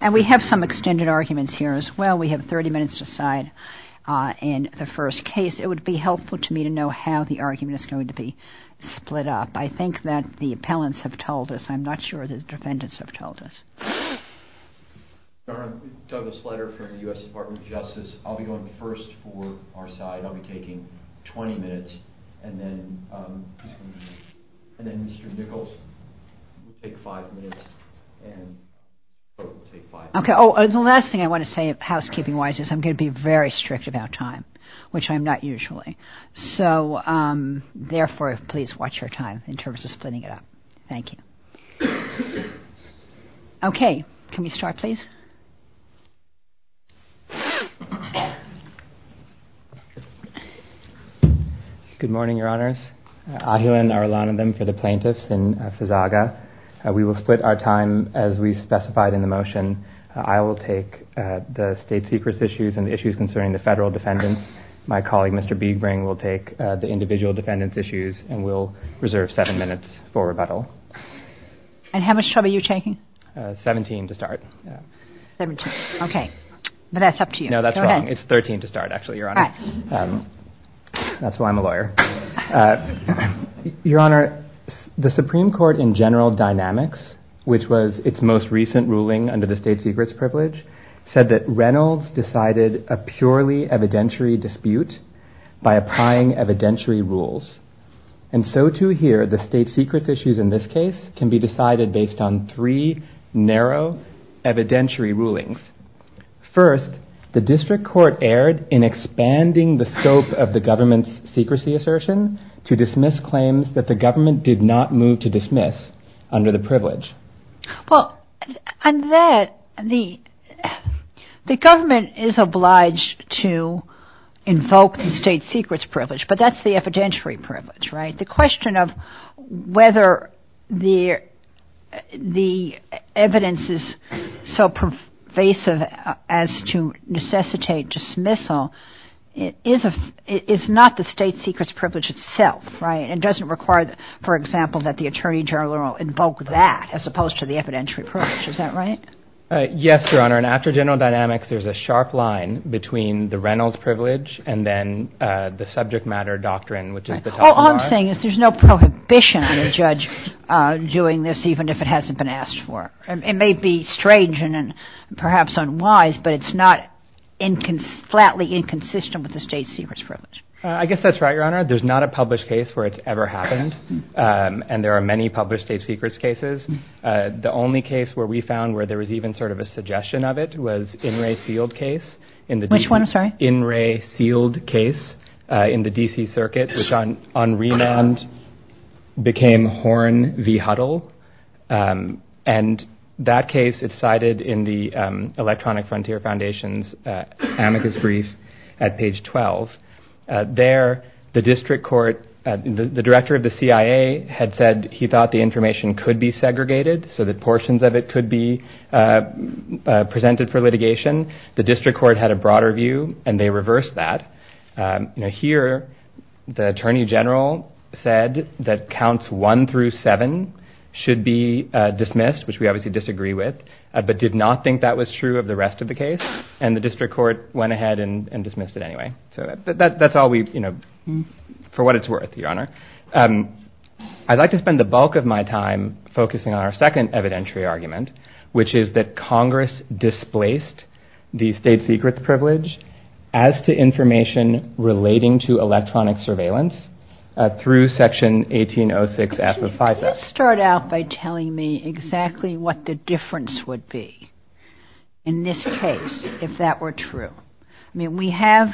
And we have some extended arguments here as well. We have 30 minutes to decide in the first case. It would be helpful to me to know how the argument is going to be split up. I think that the appellants have told us. I'm not sure the defendants have told us. I'm Douglas Slatter, U.S. Department of Justice. I'll be going first for our side. I'll be taking 20 minutes, and then Mr. Nichols will take five minutes. The last thing I want to say housekeeping-wise is I'm going to be very strict about time, which I'm not usually. So therefore, please watch your time in terms of splitting it up. Thank you. Okay. Good morning, Your Honors. I'm Douglas Slatter, U.S. Department of Justice. I'm here in our line of them for the plaintiffs and Fazaga. We will split our time as we specified in the motion. I will take the state secrets issues and the issues concerning the federal defendants. My colleague, Mr. Biegbring, will take the individual defendants' issues, and we'll reserve seven minutes for rebuttal. And how much time are you taking? 17 to start. Okay. But that's up to you. No, that's wrong. It's 13 to start, actually, Your Honor. That's why I'm a lawyer. Your Honor, the Supreme Court in general dynamics, which was its most recent ruling under the state secrets privilege, said that Reynolds decided a purely evidentiary dispute by applying evidentiary rules. And so, too, here, the state secrets issues in this case can be decided based on three narrow evidentiary rulings. First, the district court erred in expanding the scope of the government's secrecy assertion to dismiss claims that the government did not move to dismiss under the privilege. Well, under that, the government is obliged to invoke the state secrets privilege, but that's the evidentiary privilege, right? The question of whether the evidence is so pervasive as to necessitate dismissal is not the state secrets privilege itself, right? It doesn't require, for example, that the attorney general invoke that as opposed to the evidentiary privilege. Is that right? Yes, Your Honor. And after general dynamics, there's a sharp line between the Reynolds privilege and then the subject matter doctrine, which is the top of the line. All I'm saying is there's no prohibition on the judge doing this, even if it hasn't been asked for. It may be strange and perhaps unwise, but it's not flatly inconsistent with the state secrets privilege. I guess that's right, Your Honor. There's not a published case where it's ever happened, and there are many published state secrets cases. The only case where we found where there was even sort of a suggestion of it was In re Sealed case. Which one? In re Sealed case in the D.C. circuit, which on remand became Horn v. Huddle. And that case is cited in the Electronic Frontier Foundation's amicus brief at page 12. There, the district court, the director of the CIA had said he thought the information could be segregated, so that portions of it could be presented for litigation. The district court had a broader view, and they reversed that. Now here, the attorney general said that counts one through seven should be dismissed, which we obviously disagree with, but did not think that was true of the rest of the case. And the district court went ahead and dismissed it anyway. So that's all we, you know, for what it's worth, Your Honor. I'd like to spend the bulk of my time focusing on our second evidentiary argument, which is that Congress displaced the state secrets privilege as to information relating to electronic surveillance through Section 1806. Let's start out by telling me exactly what the difference would be in this case if that were true. I mean, we have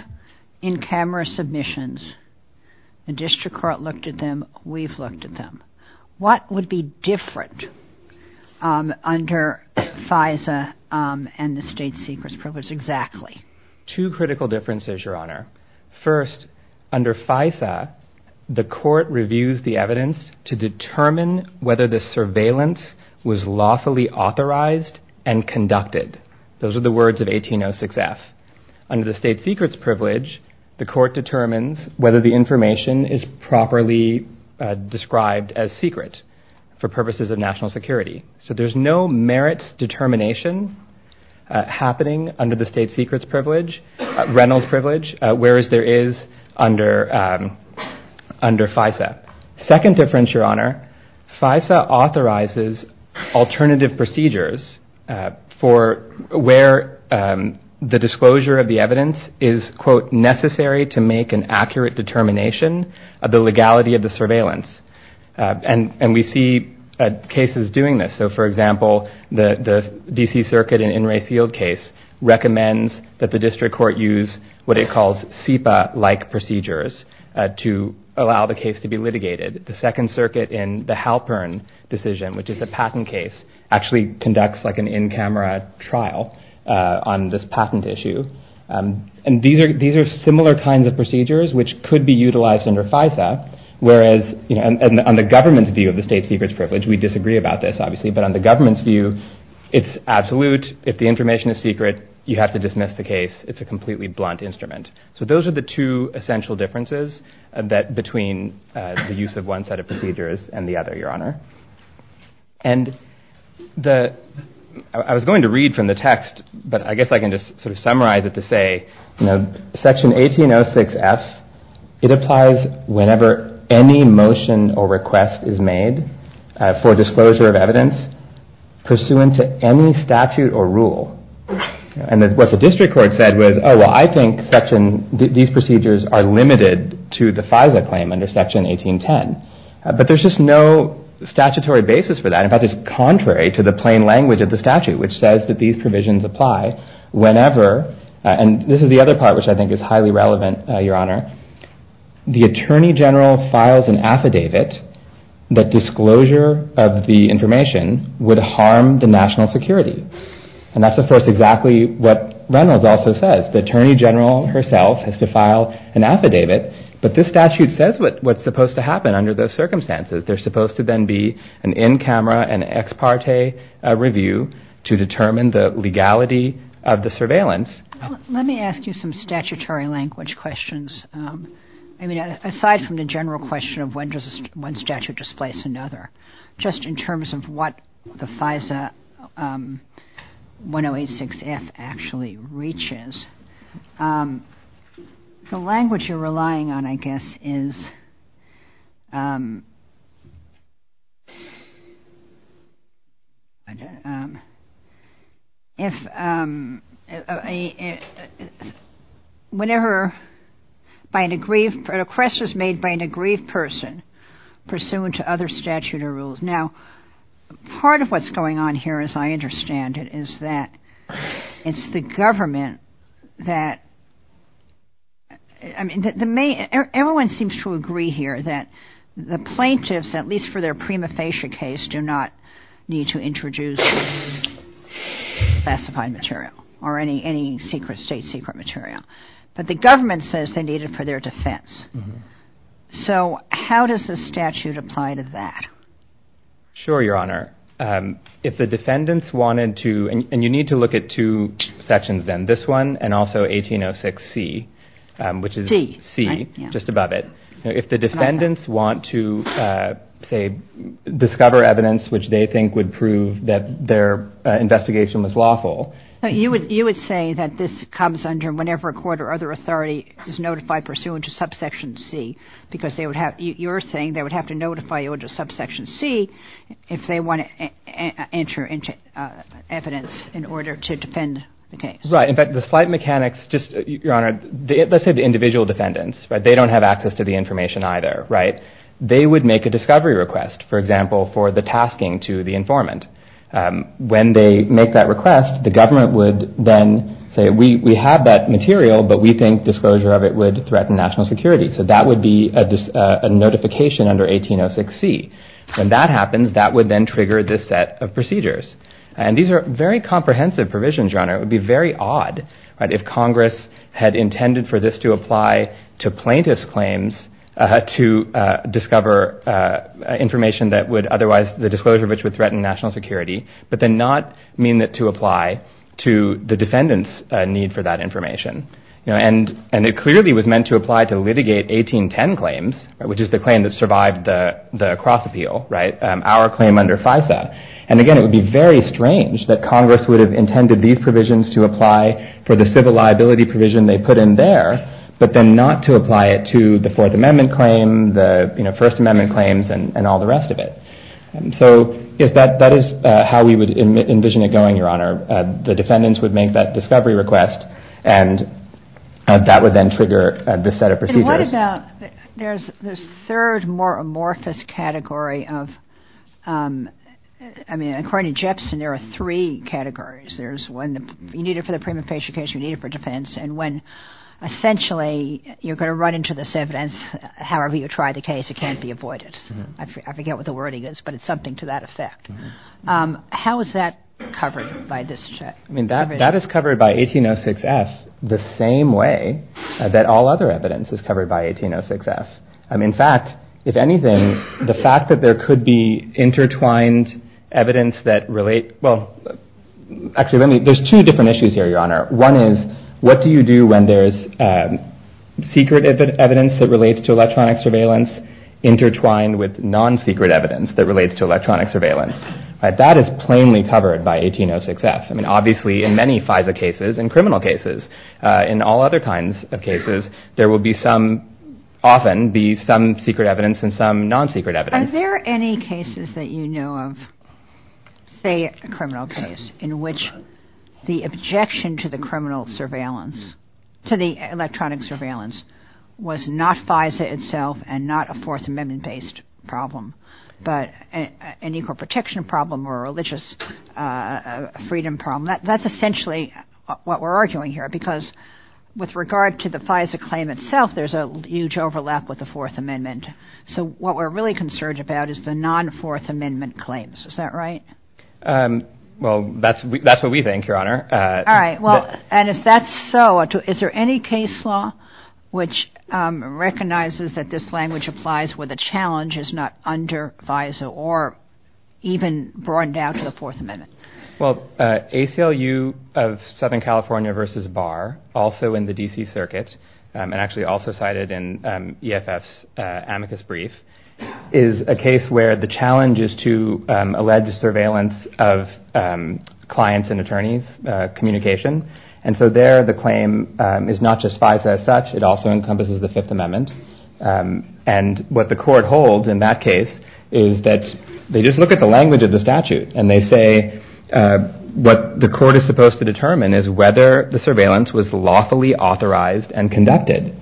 in-camera submissions. The district court looked at them. We've looked at them. What would be different under FISA and the state secrets privilege exactly? Two critical differences, Your Honor. First, under FISA, the court reviews the evidence to determine whether the surveillance was lawfully authorized and conducted. Those are the words of 1806F. Under the state secrets privilege, the court determines whether the information is properly described as secret for purposes of national security. So there's no merits determination happening under the state secrets privilege, Reynolds privilege, whereas there is under FISA. Second difference, Your Honor, FISA authorizes alternative procedures for where the disclosure of the evidence is, quote, necessary to make an accurate determination of the legality of the surveillance. And we see cases doing this. So, for example, the D.C. Circuit in In re Field case recommends that the district court use what it calls SIPA-like procedures to allow the case to be litigated. The Second Circuit in the Halpern decision, which is a patent case, actually conducts like an in-camera trial on this patent issue. And these are similar kinds of procedures which could be utilized under FISA, whereas, you know, on the government's view of the state secrets privilege, we disagree about this, obviously. But on the government's view, it's absolute. If the information is secret, you have to dismiss the case. It's a completely blunt instrument. So those are the two essential differences between the use of one set of procedures and the other, Your Honor. And I was going to read from the text, but I guess I can just sort of summarize it to say, you know, Section 1806F, it applies whenever any motion or request is made for disclosure of evidence pursuant to any statute or rule. And what the district court said was, oh, well, I think these procedures are limited to the FISA claim under Section 1810. But there's just no statutory basis for that. In fact, it's contrary to the plain language of the statute, which says that these provisions apply whenever, and this is the other part which I think is highly relevant, Your Honor, the attorney general files an affidavit that disclosure of the information would harm the national security. And that's, of course, exactly what Reynolds also says. The attorney general herself has to file an affidavit. But this statute says what's supposed to happen under those circumstances. They're supposed to then be an in-camera and ex parte review to determine the legality of the surveillance. Let me ask you some statutory language questions. I mean, aside from the general question of when does one statute displace another, just in terms of what the FISA 1086F actually reaches, the language you're relying on, I guess, is whenever a request is made by an aggrieved person pursuant to other statutory rules. Now, part of what's going on here, as I understand it, is that it's the government, that, I mean, everyone seems to agree here that the plaintiffs, at least for their prima facie case, do not need to introduce classified material or any state secret material. But the government says they need it for their defense. So how does the statute apply to that? Sure, Your Honor. If the defendants wanted to, and you need to look at two sections then, this one and also 1806C, which is C, just above it. If the defendants want to, say, discover evidence which they think would prove that their investigation was lawful. You would say that this comes under whenever a court or other authority is notified pursuant to subsection C, because you're saying they would have to notify you under subsection C if they want to enter evidence in order to defend the case. Right. In fact, the slight mechanics, just, Your Honor, let's say the individual defendants, but they don't have access to the information either, right? They would make a discovery request, for example, for the tasking to the informant. When they make that request, the government would then say, we have that material, but we think disclosure of it would threaten national security. So that would be a notification under 1806C. When that happens, that would then trigger this set of procedures. And these are very comprehensive provisions, Your Honor. It would be very odd if Congress had intended for this to apply to plaintiff's claims to discover information that would otherwise, the disclosure of which would threaten national security, but then not mean that to apply to the defendant's need for that information. And it clearly was meant to apply to litigate 1810 claims, which is the claim that survived the cross-appeal, right? Our claim under FISA. And again, it would be very strange that Congress would have intended these provisions to apply for the civil liability provision they put in there, but then not to apply it to the Fourth Amendment claim, the First Amendment claims, and all the rest of it. So that is how we would envision it going, Your Honor. The defendants would make that discovery request, and that would then trigger this set of procedures. And what about the third, more amorphous category of, I mean, according to Jepson, there are three categories. There's when you need it for the premeditation case, you need it for defense, and when essentially you're going to run into this evidence, however you try the case, it can't be avoided. I forget what the wording is, but it's something to that effect. How is that covered by this check? I mean, that is covered by 1806S the same way that all other evidence is covered by 1806S. In fact, if anything, the fact that there could be intertwined evidence that relates – well, actually, there's two different issues here, Your Honor. One is, what do you do when there's secret evidence that relates to electronic surveillance intertwined with non-secret evidence that relates to electronic surveillance? That is plainly covered by 1806S. I mean, obviously, in many FISA cases and criminal cases, in all other kinds of cases, there will be some – often be some secret evidence and some non-secret evidence. Are there any cases that you know of, say a criminal case, in which the objection to the criminal surveillance – to the electronic surveillance was not FISA itself and not a Fourth Amendment-based problem, but an equal protection problem or a religious freedom problem? That's essentially what we're arguing here, because with regard to the FISA claim itself, there's a huge overlap with the Fourth Amendment. So what we're really concerned about is the non-Fourth Amendment claims. Is that right? Well, that's what we think, Your Honor. All right. Well, and if that's so, is there any case law which recognizes that this language applies where the challenge is not under FISA or even brought down to the Fourth Amendment? Well, ACLU of Southern California v. Barr, also in the D.C. Circuit, and actually also cited in EFF's amicus brief, is a case where the challenge is to allege surveillance of clients and attorneys' communication. And so there the claim is not just FISA as such. It also encompasses the Fifth Amendment. And what the court holds in that case is that they just look at the language of the statute, and they say what the court is supposed to determine is whether the surveillance was lawfully authorized and conducted.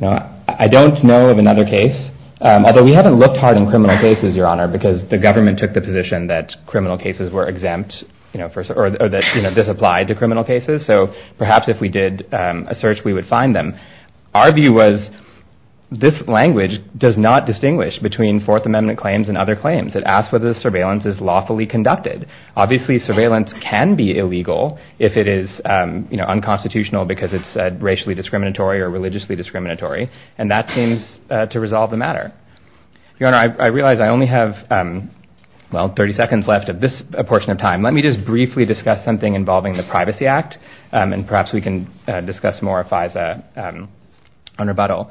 Now, I don't know of another case, although we haven't looked hard in criminal cases, Your Honor, because the government took the position that criminal cases were exempt or that this applied to criminal cases. So perhaps if we did a search, we would find them. Our view was this language does not distinguish between Fourth Amendment claims and other claims. It asks whether the surveillance is lawfully conducted. Obviously, surveillance can be illegal if it is unconstitutional because it's racially discriminatory or religiously discriminatory. And that seems to resolve the matter. Your Honor, I realize I only have, well, 30 seconds left of this portion of time. Let me just briefly discuss something involving the Privacy Act, and perhaps we can discuss more FISA on rebuttal.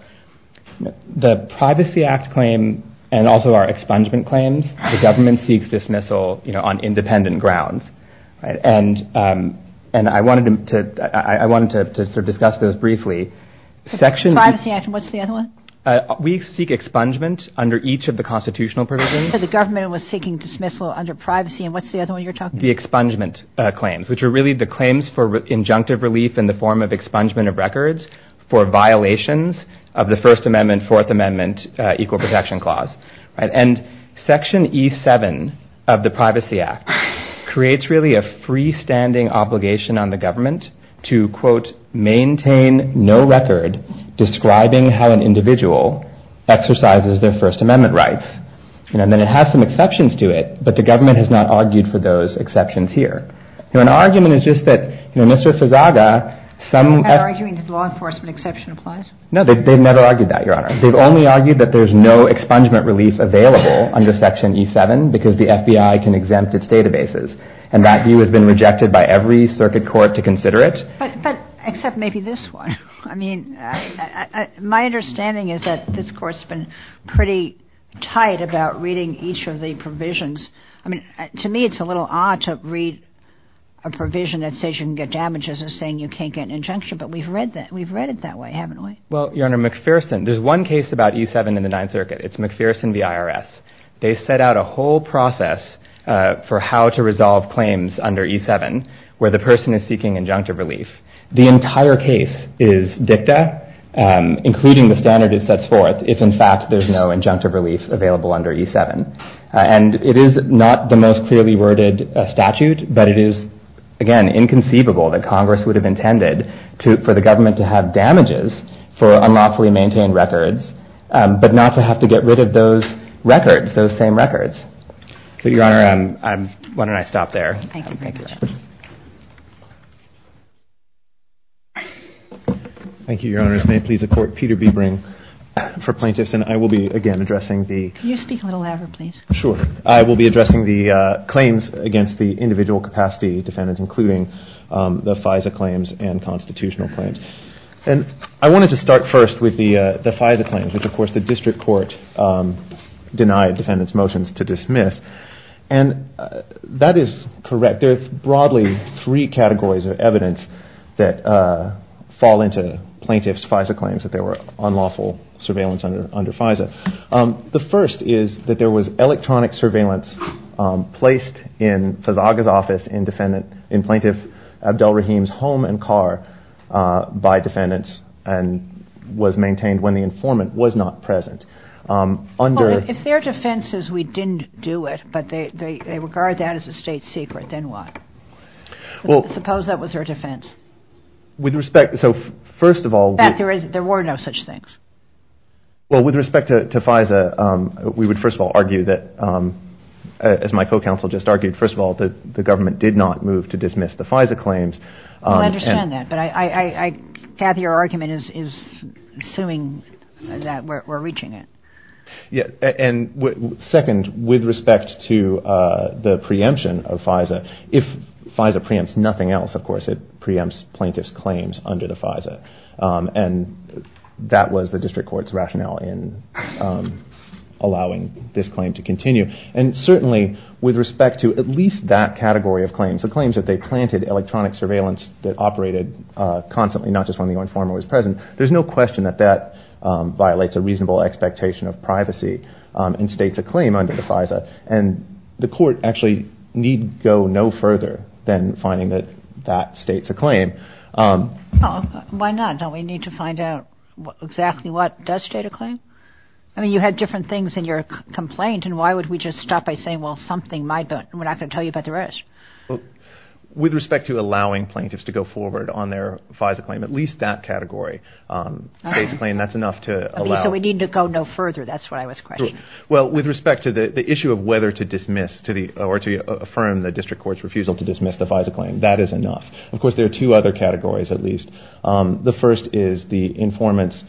The Privacy Act claim and also our expungement claims, the government seeks dismissal on independent grounds. And I wanted to discuss those briefly. The Privacy Act, and what's the other one? We seek expungement under each of the constitutional provisions. So the government was seeking dismissal under privacy, and what's the other one you're talking about? The expungement claims, which are really the claims for injunctive relief in the form of expungement of records for violations of the First Amendment, Fourth Amendment, Equal Protection Clause. And Section E7 of the Privacy Act creates really a freestanding obligation on the government to, quote, maintain no record describing how an individual exercises their First Amendment rights. And then it has some exceptions to it, but the government has not argued for those exceptions here. Now, an argument is just that Mr. Sazaga, some— You're not arguing that the law enforcement exception applies? No, they've never argued that, Your Honor. They've only argued that there's no expungement relief available under Section E7 because the FBI can exempt its databases. And that view has been rejected by every circuit court to consider it. But except maybe this one. I mean, my understanding is that this Court's been pretty tight about reading each of the provisions. I mean, to me it's a little odd to read a provision that says you can get damages as saying you can't get an injunction, but we've read it that way, haven't we? Well, Your Honor, McPherson—there's one case about E7 in the Ninth Circuit. It's McPherson v. IRS. They set out a whole process for how to resolve claims under E7 where the person is seeking injunctive relief. The entire case is dicta, including the standard it sets forth if, in fact, there's no injunctive relief available under E7. And it is not the most clearly worded statute, but it is, again, inconceivable that Congress would have intended for the government to have damages for unlawfully maintained records, but not to have to get rid of those records, those same records. So, Your Honor, why don't I stop there. Thank you. Thank you. Thank you, Your Honor. May it please the Court. Peter Biebering for Plaintiffs. And I will be, again, addressing the— Can you speak a little louder, please? Sure. I will be addressing the claims against the individual capacity defendants, including the FISA claims and constitutional claims. And I wanted to start first with the FISA claims, which, of course, the district court denied defendants' motions to dismiss. And that is correct. There's broadly three categories of evidence that fall into plaintiffs' FISA claims that there were unlawful surveillance under FISA. The first is that there was electronic surveillance placed in Fazaga's office in plaintiff Abdel Rahim's home and car by defendants and was maintained when the informant was not present. If their defense is we didn't do it, but they regard that as a state secret, then what? Suppose that was their defense. So, first of all— In fact, there were no such things. Well, with respect to FISA, we would, first of all, argue that— As my co-counsel just argued, first of all, the government did not move to dismiss the FISA claims. I understand that, but I— Kathy, your argument is assuming that we're reaching it. Yeah. And, second, with respect to the preemption of FISA, if FISA preempts nothing else, of course, it preempts plaintiffs' claims under the FISA. And that was the district court's rationale in allowing this claim to continue. And, certainly, with respect to at least that category of claims, the claims that they planted electronic surveillance that operated constantly, not just when the informant was present, there's no question that that violates a reasonable expectation of privacy and states a claim under the FISA. And the court actually need go no further than finding that that states a claim. Why not? Don't we need to find out exactly what does state a claim? I mean, you had different things in your complaint, and why would we just stop by saying, well, something might, but I'm not going to tell you about the rest. With respect to allowing plaintiffs to go forward on their FISA claim, at least that category states a claim. That's enough to allow— So we need to go no further. That's what I was questioning. Well, with respect to the issue of whether to dismiss or to affirm the district court's refusal to dismiss the FISA claim, that is enough. Of course, there are two other categories, at least. The first is the informant's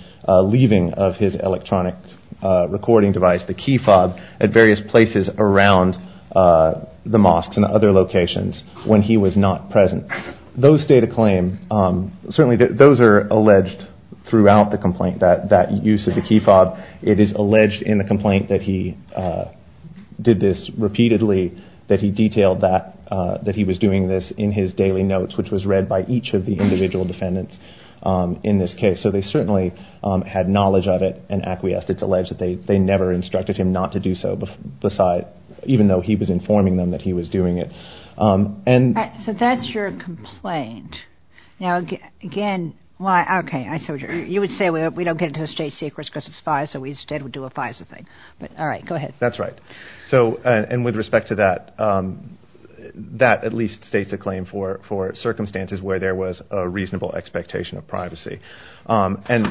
leaving of his electronic recording device, the key fob, at various places around the mosques and other locations when he was not present. Those state a claim. Certainly those are alleged throughout the complaint, that use of the key fob. It is alleged in the complaint that he did this repeatedly, that he detailed that he was doing this in his daily notes, which was read by each of the individual defendants in this case. So they certainly had knowledge of it and acquiesced. It's alleged that they never instructed him not to do so, even though he was informing them that he was doing it. So that's your complaint. Now, again, you would say we don't get into the state secrets because it's FISA. We instead would do a FISA thing. All right. Go ahead. That's right. And with respect to that, that at least states a claim for circumstances where there was a reasonable expectation of privacy. And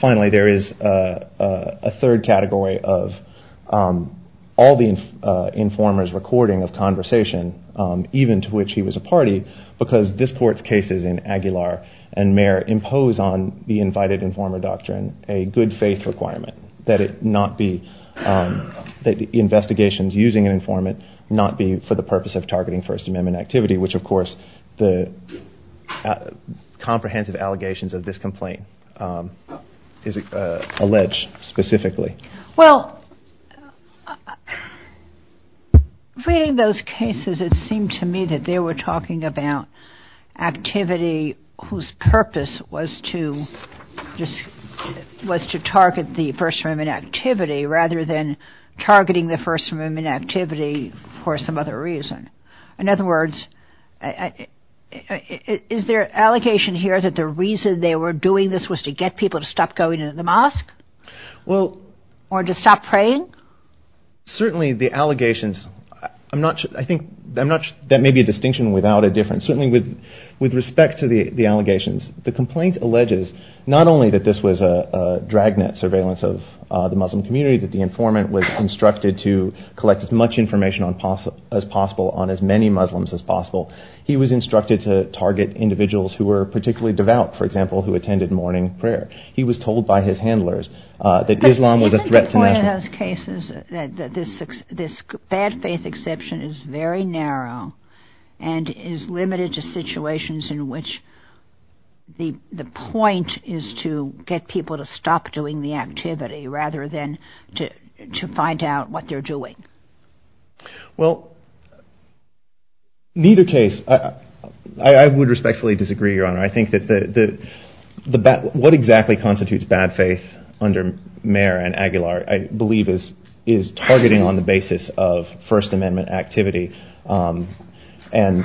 finally, there is a third category of all the informant's recording of conversation, even to which he was a party, because this Court's cases in Aguilar and Mayer impose on the invited informant doctrine a good faith requirement that investigations using an informant not be for the purpose of targeting First Amendment activity, which, of course, the comprehensive allegations of this complaint allege specifically. Well, reading those cases, it seemed to me that they were talking about activity whose purpose was to target the First Amendment activity rather than targeting the First Amendment activity for some other reason. In other words, is there an allegation here that the reason they were doing this was to get people to stop going to the mosque or to stop praying? Certainly the allegations. I think that may be a distinction without a difference. Certainly with respect to the allegations, the complaint alleges not only that this was a dragnet surveillance of the Muslim community, that the informant was instructed to collect as much information as possible on as many Muslims as possible. He was instructed to target individuals who were particularly devout, for example, who attended morning prayer. He was told by his handlers that Islam was a threat to nationalism. Reading those cases, this bad faith exception is very narrow and is limited to situations in which the point is to get people to stop doing the activity rather than to find out what they're doing. Well, neither case. I would respectfully disagree, Your Honor. I think that what exactly constitutes bad faith under Mayer and Aguilar, I believe, is targeting on the basis of First Amendment activity and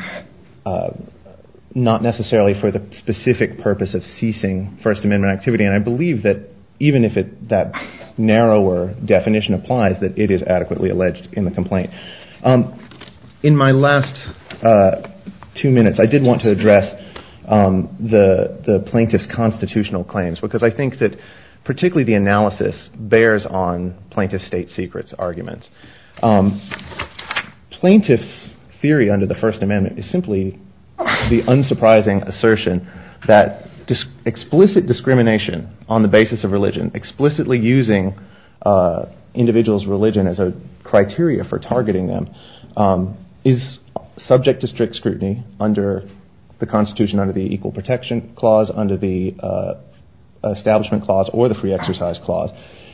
not necessarily for the specific purpose of ceasing First Amendment activity. And I believe that even if that narrower definition applies, that it is adequately alleged in the complaint. In my last two minutes, I did want to address the plaintiff's constitutional claims because I think that particularly the analysis bears on plaintiff's state secrets arguments. Plaintiff's theory under the First Amendment is simply the unsurprising assertion that explicit discrimination on the basis of religion, explicitly using individuals' religion as a criteria for targeting them, is subject to strict scrutiny under the Constitution, under the Equal Protection Clause, under the Establishment Clause, or the Free Exercise Clause.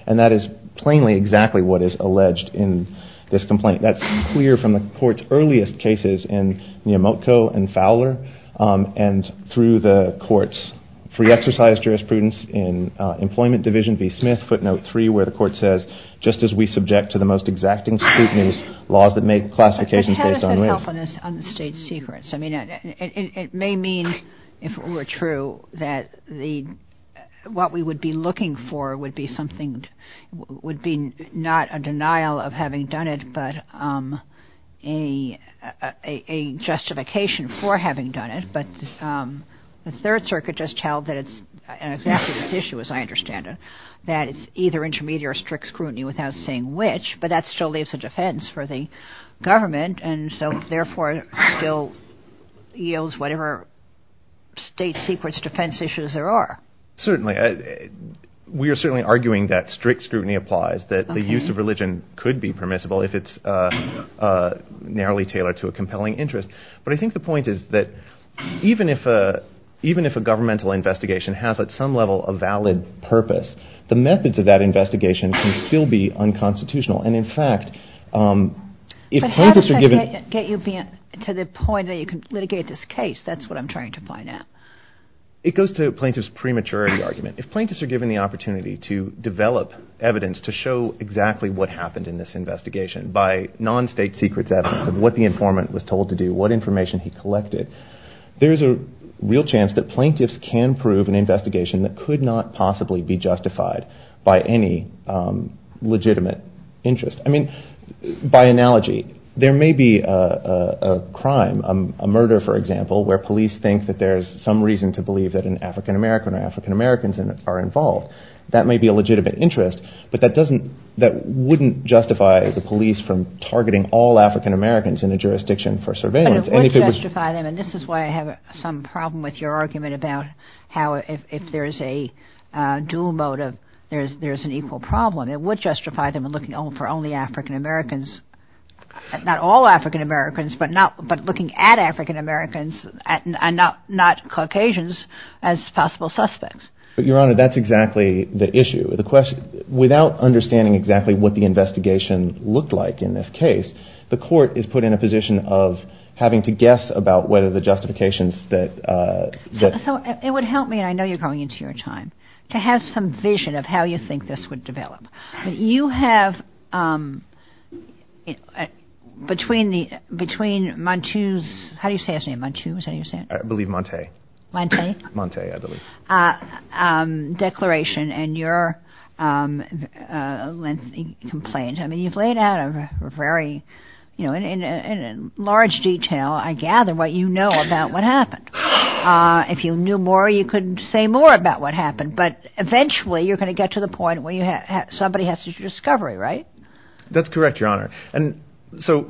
And that is plainly exactly what is alleged in this complaint. That's clear from the Court's earliest cases in Miyamoto and Fowler and through the Court's Free Exercise jurisprudence in Employment Division v. Smith, footnote 3, where the Court says, just as we subject to the most exacting scrutiny, laws that make classifications based on myth. But can I ask for help on the state secrets? I mean, it may mean, if it were true, that what we would be looking for would be not a denial of having done it but a justification for having done it. But the Third Circuit just held that it's exactly this issue, as I understand it, that it's either intermediate or strict scrutiny without saying which, but that still leaves a defense for the government and so therefore still yields whatever state secrets defense issues there are. Certainly. We are certainly arguing that strict scrutiny applies, that the use of religion could be permissible if it's narrowly tailored to a compelling interest. But I think the point is that even if a governmental investigation has at some level a valid purpose, the methods of that investigation can still be unconstitutional. And in fact, if plaintiffs are given... But how does that get you to the point that you can litigate this case? That's what I'm trying to find out. It goes to plaintiffs' prematurity argument. If plaintiffs are given the opportunity to develop evidence to show exactly what happened in this investigation by non-state secrets evidence of what the informant was told to do, what information he collected, there's a real chance that plaintiffs can prove an investigation that could not possibly be justified by any legitimate interest. I mean, by analogy, there may be a crime, a murder, for example, where police think that there's some reason to believe that an African-American or African-Americans are involved. That may be a legitimate interest, but that wouldn't justify the police from targeting all African-Americans in the jurisdiction for surveillance. It would justify them, and this is why I have some problem with your argument about how if there's a dual motive, there's an equal problem. It would justify them looking for only African-Americans, not all African-Americans, but looking at African-Americans, not Caucasians, as possible suspects. But, Your Honor, that's exactly the issue. Without understanding exactly what the investigation looked like in this case, the court is put in a position of having to guess about whether the justifications that... It would help me, and I know you're going into your time, to have some vision of how you think this would develop. You have, between Montu's... How do you say his name, Montu? I believe Montay. Montay? Montay, I believe. Declaration, and your lengthy complaint. I mean, you've laid out a very... In large detail, I gather, what you know about what happened. If you knew more, you could say more about what happened, but eventually you're going to get to the point where somebody has to do discovery, right? That's correct, Your Honor. And so,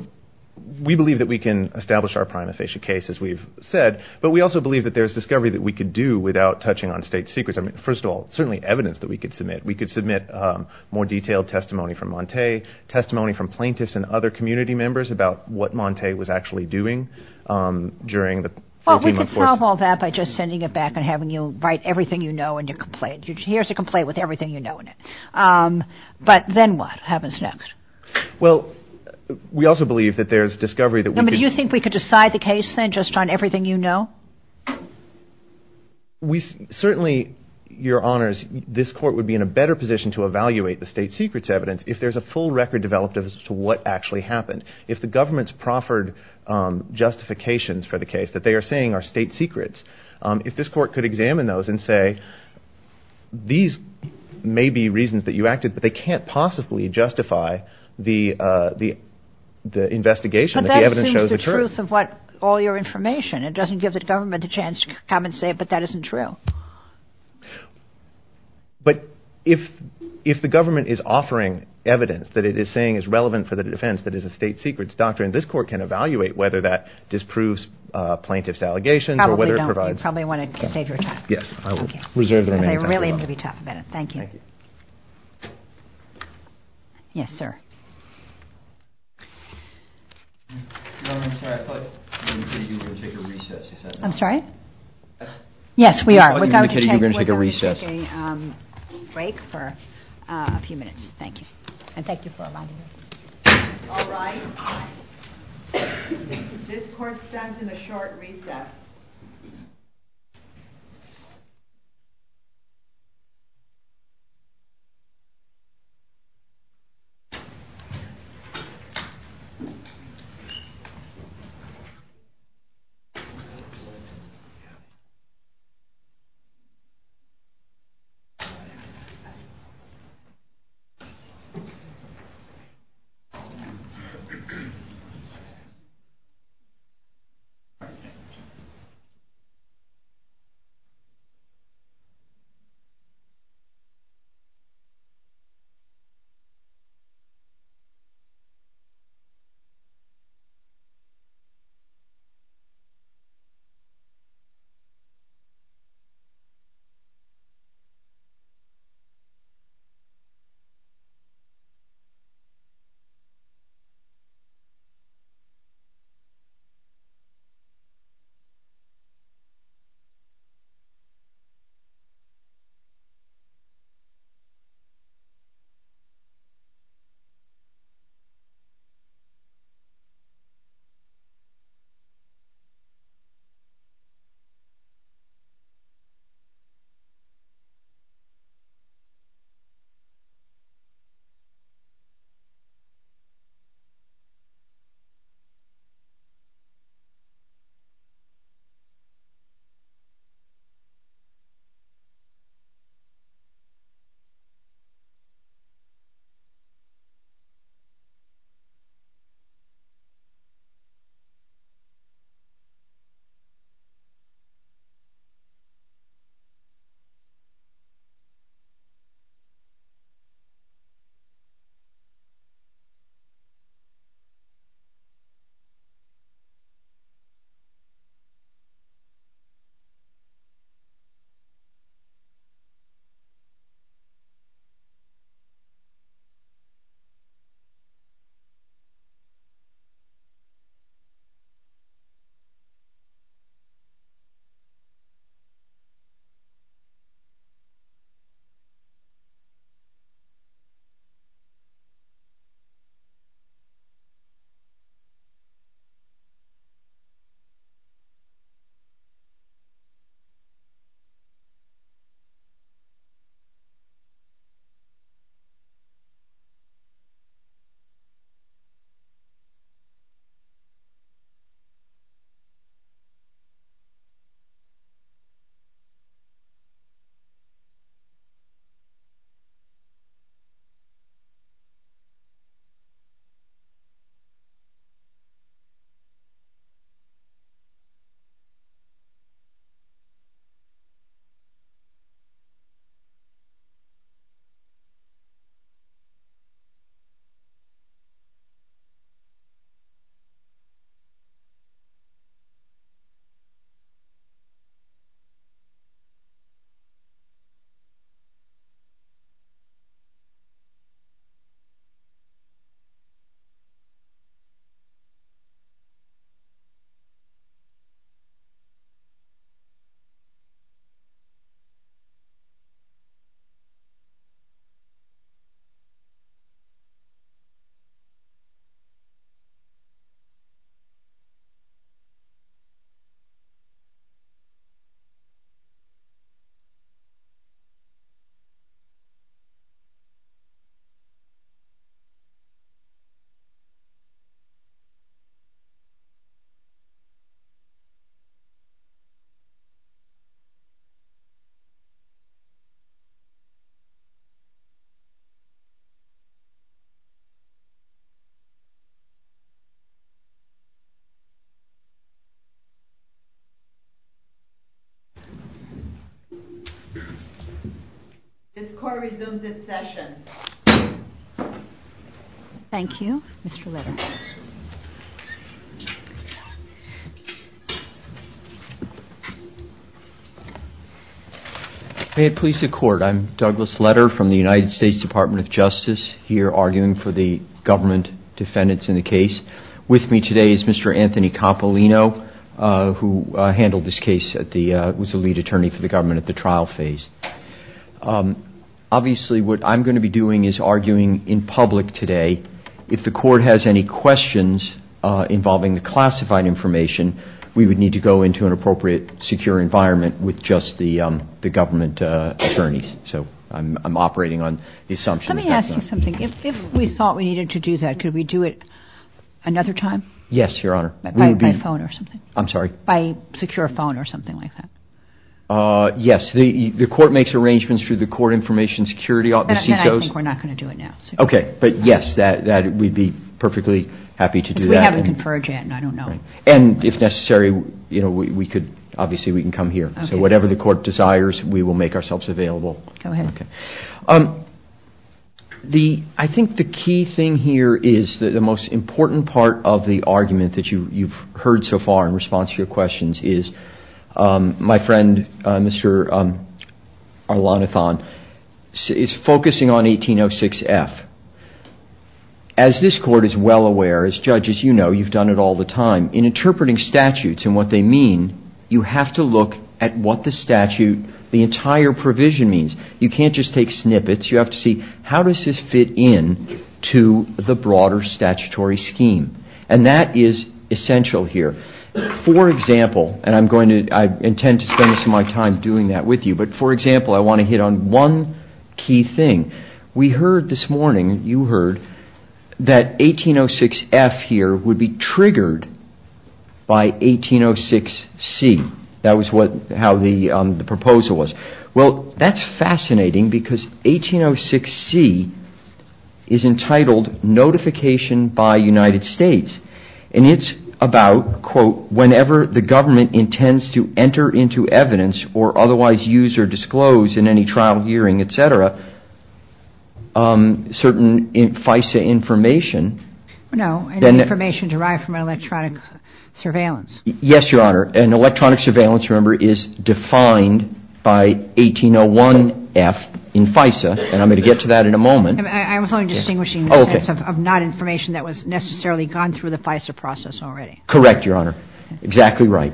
we believe that we can establish our prima facie case, as we've said, but we also believe that there's discovery that we could do without touching on state secrets. I mean, first of all, certainly evidence that we could submit. We could submit more detailed testimony from Montay, testimony from plaintiffs and other community members about what Montay was actually doing during the 14-month course. Well, we could solve all that by just sending it back and having you write everything you know in your complaint. Here's a complaint with everything you know in it. But then what happens next? Well, we also believe that there's discovery that we could... Do you think we could decide the case, then, just on everything you know? Certainly, Your Honors, this court would be in a better position to evaluate the state secrets evidence if there's a full record developed as to what actually happened. If the government's proffered justifications for the case that they are saying are state secrets, if this court could examine those and say, these may be reasons that you acted, but they can't possibly justify the investigation that the evidence shows occurred. But that seems the truth of what all your information. It doesn't give the government a chance to come and say, but that isn't true. But if the government is offering evidence that it is saying is relevant for the defense that is a state secrets doctrine, this court can evaluate whether that disproves plaintiff's allegations... I probably want to save your time. Yes, I will reserve the remaining time. I really need to be talking about it. Thank you. Thank you. Yes, sir. Your Honor, I thought you were going to take a recess. I'm sorry? Yes, we are. I thought you were going to take a recess. We're going to take a break for a few minutes. Thank you. And thank you for arriving. All right. This court stands in a short recess. Thank you. Thank you. Thank you. Thank you. Thank you. Thank you. Thank you. Thank you. This court resumes its session. Thank you. Mr. Letterman. Hey, at Police at Court, I'm Douglas Letter from the United States Department of Justice, here arguing for the government defendants in the case. With me today is Mr. Anthony Campolino, who handled this case, was the lead attorney for the government at the trial phase. Obviously, what I'm going to be doing is arguing in public today. If the court has any questions involving the classified information, we would need to go into an appropriate secure environment with just the government attorneys. So, I'm operating on the assumption. Let me ask you something. If we thought we needed to do that, could we do it another time? Yes, Your Honor. By phone or something? I'm sorry? By secure phone or something like that? Yes. The court makes arrangements through the court information security office. I think we're not going to do it now. Okay. But, yes, we'd be perfectly happy to do that. We have a confer agent. I don't know. And, if necessary, obviously, we can come here. So, whatever the court desires, we will make ourselves available. Go ahead. I think the key thing here is the most important part of the argument that you've heard so far in response to your questions is my friend, Mr. Alanathan, is focusing on 1806F. As this court is well aware, as judges, you know, you've done it all the time, in interpreting statutes and what they mean, you have to look at what the statute, the entire provision means. You can't just take snippets. You have to see, how does this fit in to the broader statutory scheme? And that is essential here. For example, and I intend to spend some of my time doing that with you, but, for example, I want to hit on one key thing. We heard this morning, you heard, that 1806F here would be triggered by 1806C. That was how the proposal was. Well, that's fascinating because 1806C is entitled notification by United States. And it's about, quote, whenever the government intends to enter into evidence or otherwise use or disclose in any trial hearing, et cetera, certain FISA information. No, information derived from electronic surveillance. Yes, Your Honor. An electronic surveillance, remember, is defined by 1801F in FISA, and I'm going to get to that in a moment. I was only distinguishing the sense of not information that was necessarily gone through the FISA process already. Correct, Your Honor. Exactly right.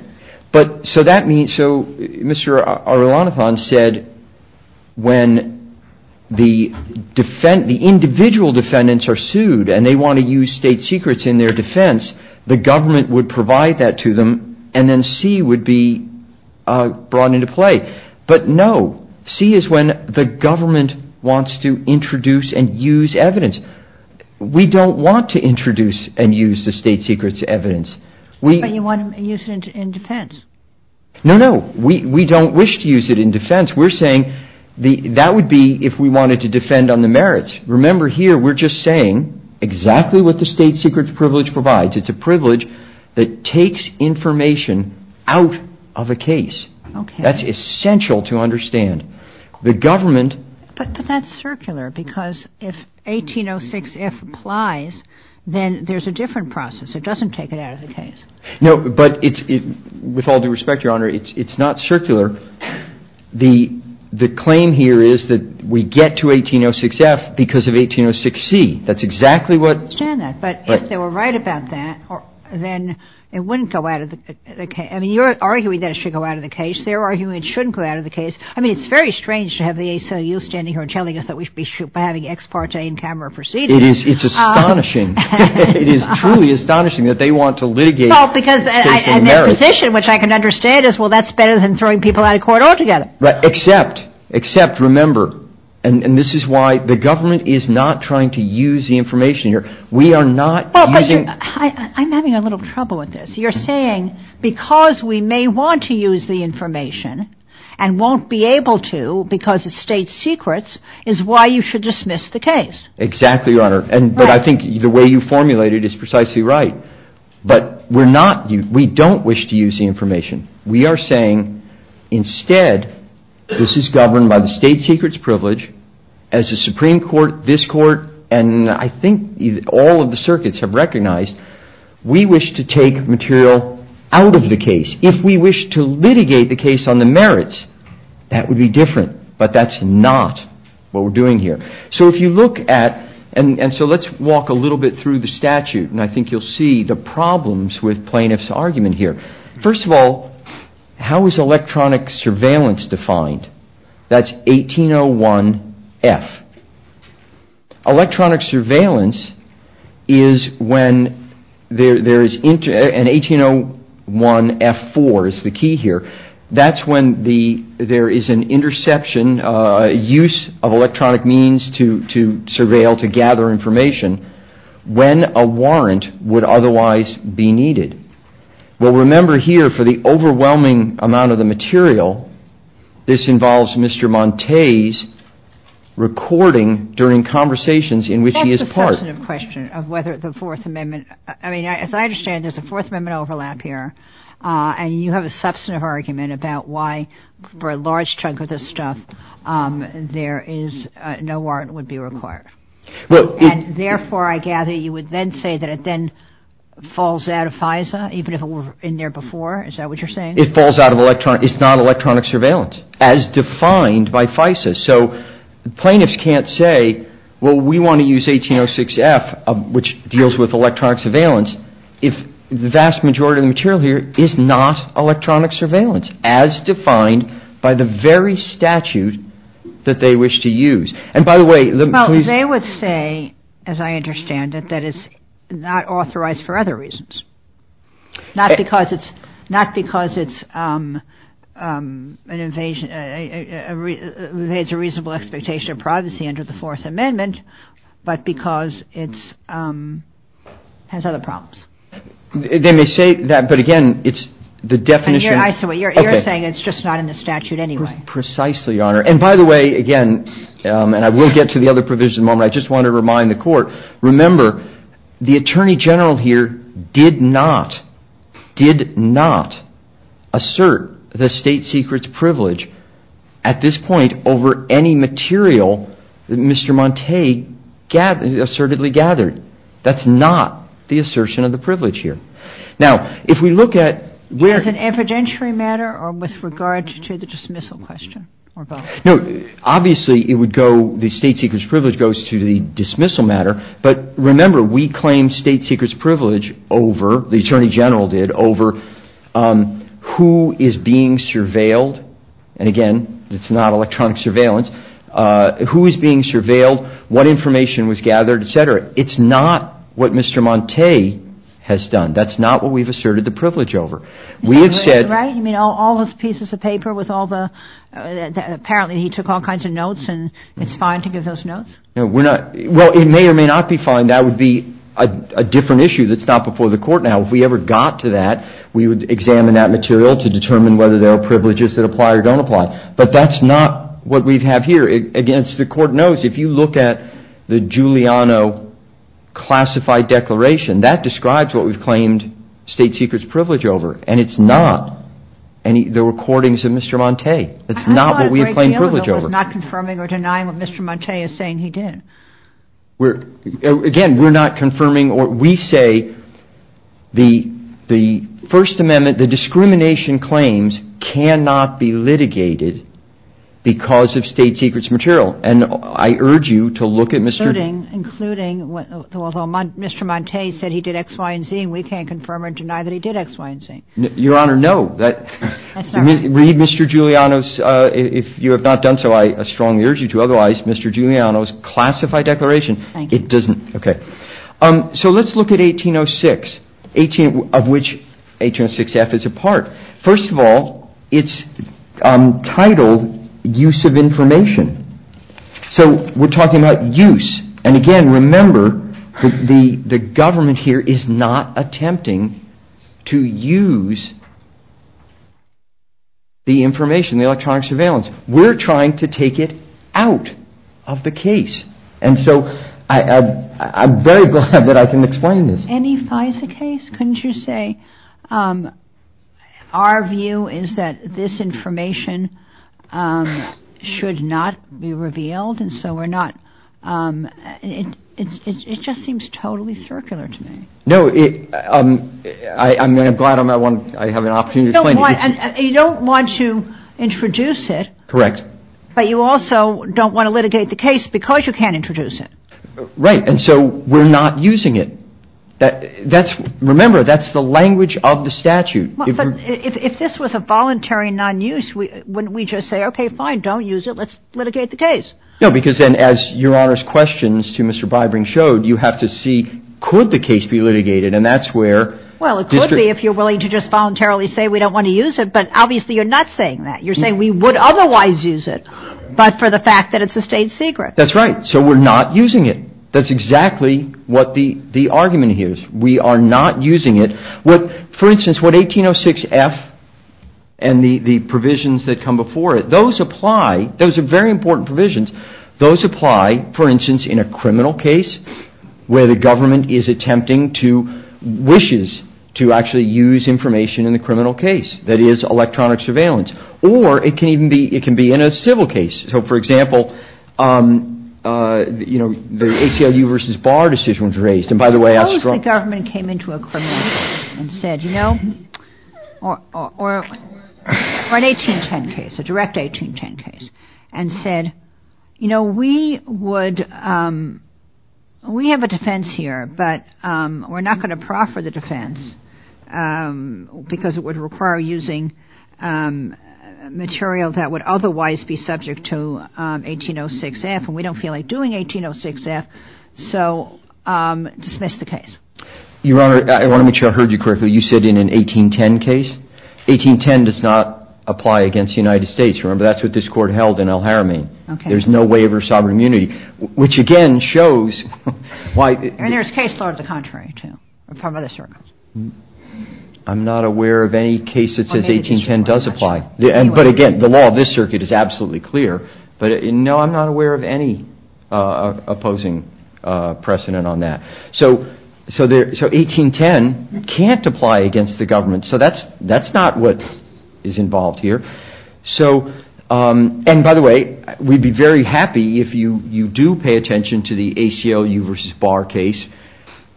But, so that means, so Mr. Arulanathan said when the individual defendants are sued and they want to use state secrets in their defense, the government would provide that to them and then C would be brought into play. But no, C is when the government wants to introduce and use evidence. We don't want to introduce and use the state secrets evidence. But you want to use it in defense. No, no, we don't wish to use it in defense. We're saying that would be if we wanted to defend on the merits. Remember here, we're just saying exactly what the state secrets privilege provides. It's a privilege that takes information out of a case. That's essential to understand. But that's circular because if 1806F applies, then there's a different process. It doesn't take it out of the case. No, but with all due respect, Your Honor, it's not circular. The claim here is that we get to 1806F because of 1806C. That's exactly what... I understand that. But if they were right about that, then it wouldn't go out of the case. I mean, you're arguing that it should go out of the case. They're arguing it shouldn't go out of the case. I mean, it's very strange to have the ACLU standing here and telling us that we should be having ex parte in camera proceedings. It is truly astonishing that they want to litigate for social merit. Well, because their position, which I can understand, is well, that's better than throwing people out of court altogether. Except, remember, and this is why the government is not trying to use the information here. We are not using... I'm having a little trouble with this. You're saying because we may want to use the information and won't be able to because of state secrets is why you should dismiss the case. Exactly, Your Honor. But I think the way you formulated it is precisely right. But we're not...we don't wish to use the information. We are saying, instead, this is governed by the state secrets privilege, as the Supreme Court, this Court, and I think all of the circuits have recognized, we wish to take material out of the case. If we wish to litigate the case on the merits, that would be different. But that's not what we're doing here. So if you look at...and so let's walk a little bit through the statute, and I think you'll see the problems with plaintiff's argument here. First of all, how is electronic surveillance defined? That's 1801F. Electronic surveillance is when there is...and 1801F4 is the key here. That's when there is an interception, use of electronic means to surveil, to gather information. When a warrant would otherwise be needed. Well, remember here, for the overwhelming amount of the material, this involves Mr. Monte's recording during conversations in which he is part. That's a substantive question of whether the Fourth Amendment... I mean, as I understand, there's a Fourth Amendment overlap here, and you have a substantive argument about why, for a large chunk of this stuff, there is...no warrant would be required. And therefore, I gather, you would then say that it then falls out of FISA, even if it were in there before? Is that what you're saying? It falls out of electronic...it's not electronic surveillance, as defined by FISA. So plaintiffs can't say, well, we want to use 1806F, which deals with electronic surveillance, if the vast majority of the material here is not electronic surveillance, as defined by the very statute that they wish to use. Well, they would say, as I understand it, that it's not authorized for other reasons. Not because it's a reasonable expectation of privacy under the Fourth Amendment, but because it has other problems. They may say that, but again, it's the definition... You're saying it's just not in the statute anyway. Precisely, Your Honor. And by the way, again, and I will get to the other provisions in a moment, I just want to remind the Court, remember, the Attorney General here did not, did not assert the state secret's privilege, at this point, over any material that Mr. Montay assertively gathered. That's not the assertion of the privilege here. Now, if we look at where... No. Obviously, it would go, the state secret's privilege goes to the dismissal matter, but remember, we claim state secret's privilege over, the Attorney General did, over who is being surveilled, and again, it's not electronic surveillance, who is being surveilled, what information was gathered, et cetera. It's not what Mr. Montay has done. That's not what we've asserted the privilege over. We have said... Right, I mean, all those pieces of paper with all the... Apparently, he took all kinds of notes, and it's fine to give those notes? Well, it may or may not be fine. That would be a different issue that's not before the Court now. If we ever got to that, we would examine that material to determine whether there are privileges that apply or don't apply. But that's not what we have here. Again, as the Court knows, if you look at the Giuliano classified declaration, that describes what we've claimed state secret's privilege over, and it's not the recordings of Mr. Montay. It's not what we have claimed privilege over. I'm not confirming or denying what Mr. Montay is saying he did. Again, we're not confirming or... We say the First Amendment, the discrimination claims, cannot be litigated because of state secret's material, and I urge you to look at Mr.... Including, although Mr. Montay said he did X, Y, and Z, and we can't confirm or deny that he did X, Y, and Z. Your Honor, no. Read Mr. Giuliano's. If you have not done so, I strongly urge you to. Otherwise, Mr. Giuliano's classified declaration, it doesn't... Thank you. Okay. So let's look at 1806, of which 1806 F is a part. First of all, it's titled Use of Information. So we're talking about use, and again, remember, the government here is not attempting to use the information, the electronic surveillance. We're trying to take it out of the case, and so I'm very glad that I can explain this. Any FISA case, couldn't you say? Our view is that this information should not be revealed, and so we're not... It just seems totally circular to me. No, I'm glad I have an opportunity to explain it. You don't want to introduce it. Correct. But you also don't want to litigate the case because you can't introduce it. Right, and so we're not using it. Remember, that's the language of the statute. If this was a voluntary non-use, wouldn't we just say, okay, fine, don't use it, let's litigate the case? No, because then as Your Honor's questions to Mr. Bybring showed, you have to see could the case be litigated, and that's where... Well, it could be if you're willing to just voluntarily say we don't want to use it, but obviously you're not saying that. You're saying we would otherwise use it, but for the fact that it's a state secret. That's right. So we're not using it. That's exactly what the argument here is. We are not using it. For instance, what 1806F and the provisions that come before it, those apply. Those are very important provisions. Those apply, for instance, in a criminal case where the government is attempting to... wishes to actually use information in the criminal case. That is, electronic surveillance. Or it can be in a civil case. So, for example, the ACLU versus Barr decision was raised, and by the way... What if the government came into a criminal case and said, you know, or an 1810 case, a direct 1810 case, and said, you know, we have a defense here, but we're not going to proffer the defense because it would require using material that would otherwise be subject to 1806F, and we don't feel like doing 1806F. So dismiss the case. Your Honor, I want to make sure I heard you correctly. You said in an 1810 case? 1810 does not apply against the United States. Remember, that's what this Court held in El Jaramillo. There's no waiver of sovereign immunity, which, again, shows why... And there's case laws of the contrary, too, from other circles. I'm not aware of any case that says 1810 does apply. But, again, the law of this circuit is absolutely clear. But, no, I'm not aware of any opposing precedent on that. So 1810 can't apply against the government. So that's not what is involved here. And, by the way, we'd be very happy if you do pay attention to the ACLU versus Barr case,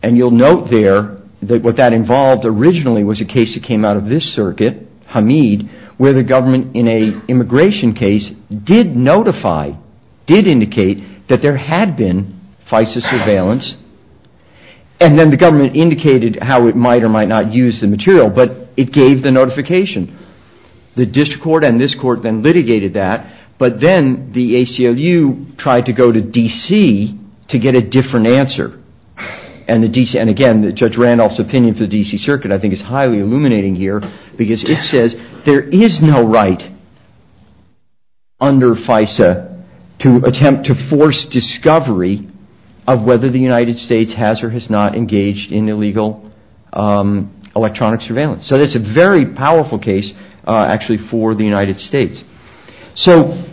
and you'll note there that what that involved originally was a case that came out of this circuit, Hamid, where the government, in an immigration case, did notify, did indicate that there had been FISA surveillance. And then the government indicated how it might or might not use the material. But it gave the notification. The district court and this court then litigated that. But then the ACLU tried to go to D.C. to get a different answer. And, again, Judge Randolph's opinion for the D.C. circuit, I think, is highly illuminating here because it says there is no right under FISA to attempt to force discovery of whether the United States has or has not engaged in illegal electronic surveillance. So that's a very powerful case, actually, for the United States. So,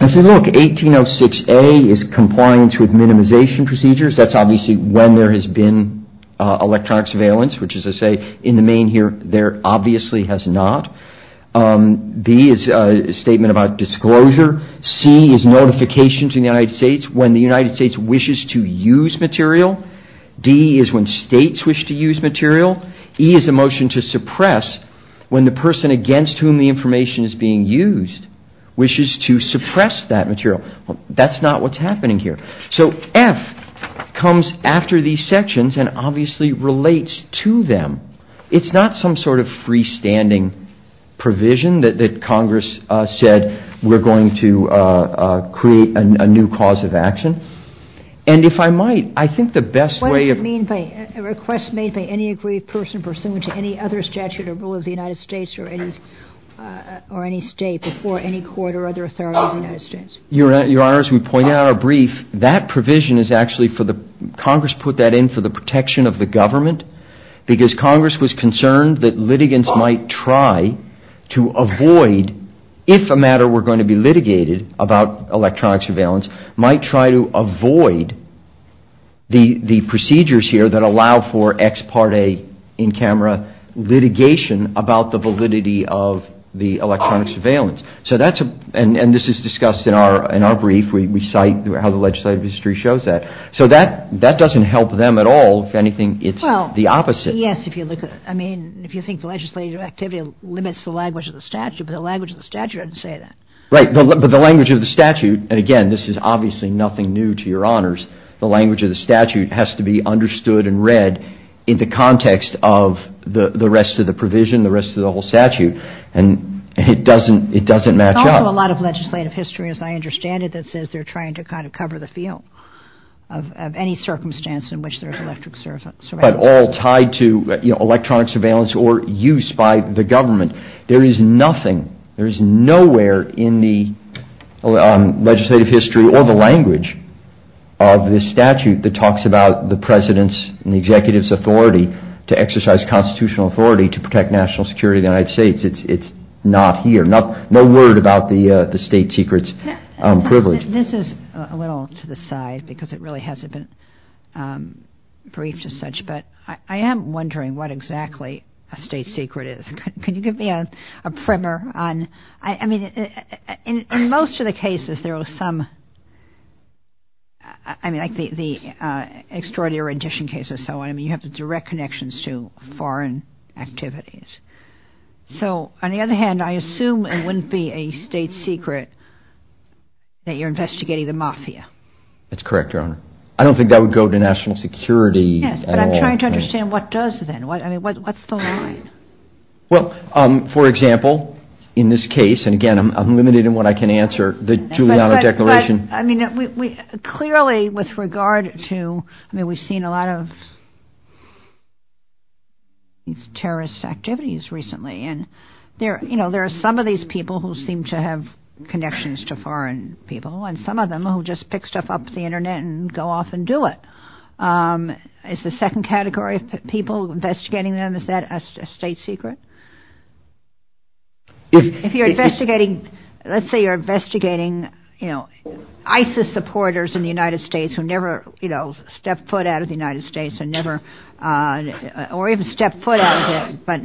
if you look, 1806A is complying to minimization procedures. That's obviously when there has been electronic surveillance, which, as I say, in the main here, there obviously has not. B is a statement about disclosure. C is notification to the United States when the United States wishes to use material. D is when states wish to use material. E is a motion to suppress when the person against whom the information is being used wishes to suppress that material. That's not what's happening here. So F comes after these sections and obviously relates to them. It's not some sort of freestanding provision that Congress said we're going to create a new cause of action. And if I might, I think the best way of... What does it mean by a request made by any agreed person pursuant to any other statute or rule of the United States Your Honor, as we pointed out in our brief, that provision is actually for the... Congress put that in for the protection of the government because Congress was concerned that litigants might try to avoid, if a matter were going to be litigated about electronic surveillance, might try to avoid the procedures here that allow for ex parte, in camera, litigation about the validity of the electronic surveillance. And this is discussed in our brief. We cite how the legislative history shows that. So that doesn't help them at all. If anything, it's the opposite. Yes, if you think the legislative activity limits the language of the statute, but the language of the statute doesn't say that. Right, but the language of the statute, and again this is obviously nothing new to Your Honors, the language of the statute has to be understood and read in the context of the rest of the provision, the rest of the whole statute. And it doesn't match up. There's also a lot of legislative history, as I understand it, that says they're trying to kind of cover the field of any circumstance in which there is electronic surveillance. But all tied to electronic surveillance or use by the government. There is nothing, there is nowhere in the legislative history or the language of this statute that talks about the President's and the Executive's authority to exercise constitutional authority to protect national security of the United States. It's not here. No word about the state secret's privilege. This is a little to the side because it really hasn't been briefed as such, but I am wondering what exactly a state secret is. Can you give me a primer on, I mean, in most of the cases there was some, I mean like the extraordinary rendition cases, and so on, you have the direct connections to foreign activities. So, on the other hand, I assume it wouldn't be a state secret that you're investigating the mafia. That's correct, Your Honor. I don't think that would go to national security at all. Yes, but I'm trying to understand what does then. I mean, what's the line? Well, for example, in this case, and again, I'm limited in what I can answer, the Giuliano Declaration. Clearly, with regard to, I mean, we've seen a lot of terrorist activities recently, and there are some of these people who seem to have connections to foreign people, and some of them who just pick stuff up from the Internet and go off and do it. Is the second category of people investigating them, is that a state secret? If you're investigating, let's say you're investigating ISIS supporters in the United States who never stepped foot out of the United States, or even stepped foot out of it, but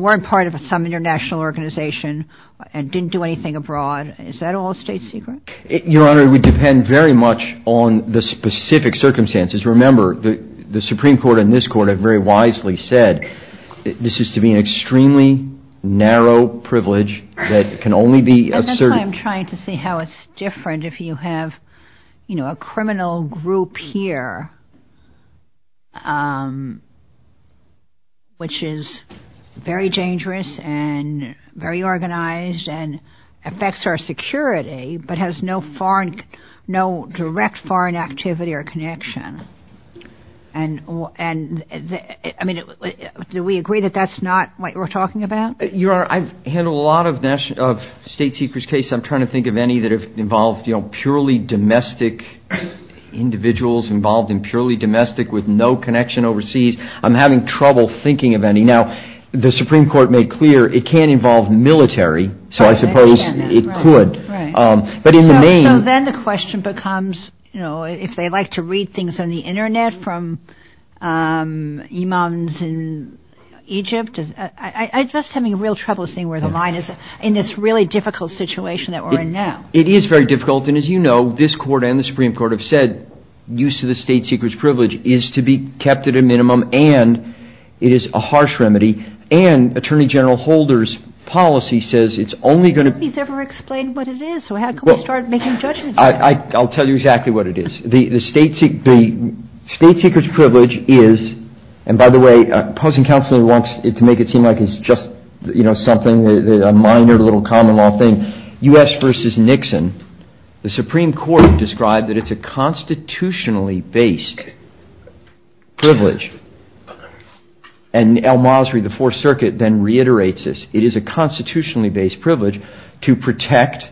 weren't part of some international organization and didn't do anything abroad, is that all a state secret? Your Honor, we depend very much on the specific circumstances. Remember, the Supreme Court and this Court have very wisely said that this is to be an extremely narrow privilege that can only be asserted... That's why I'm trying to see how it's different if you have a criminal group here, which is very dangerous and very organized and affects our security, but has no direct foreign activity or connection. And, I mean, do we agree that that's not what we're talking about? Your Honor, in a lot of state secret cases, I'm trying to think of any that have involved purely domestic individuals involved in purely domestic with no connection overseas. I'm having trouble thinking of any. Now, the Supreme Court made clear it can't involve military, so I suppose it could. So then the question becomes, you know, if they like to read things on the Internet from Imams in Egypt, I'm just having real trouble seeing where the line is in this really difficult situation that we're in now. It is very difficult, and as you know, this Court and the Supreme Court have said use of the state secret privilege is to be kept at a minimum, and it is a harsh remedy, and Attorney General Holder's policy says it's only going to... Nobody's ever explained what it is, so how can we start making judgements? I'll tell you exactly what it is. The state secret privilege is, and by the way, opposing counsel wants to make it seem like it's just, you know, something, a minor little common law thing. U.S. v. Nixon, the Supreme Court described that it's a constitutionally based privilege, and El-Masri, the Fourth Circuit, then reiterates this. It is a constitutionally based privilege to protect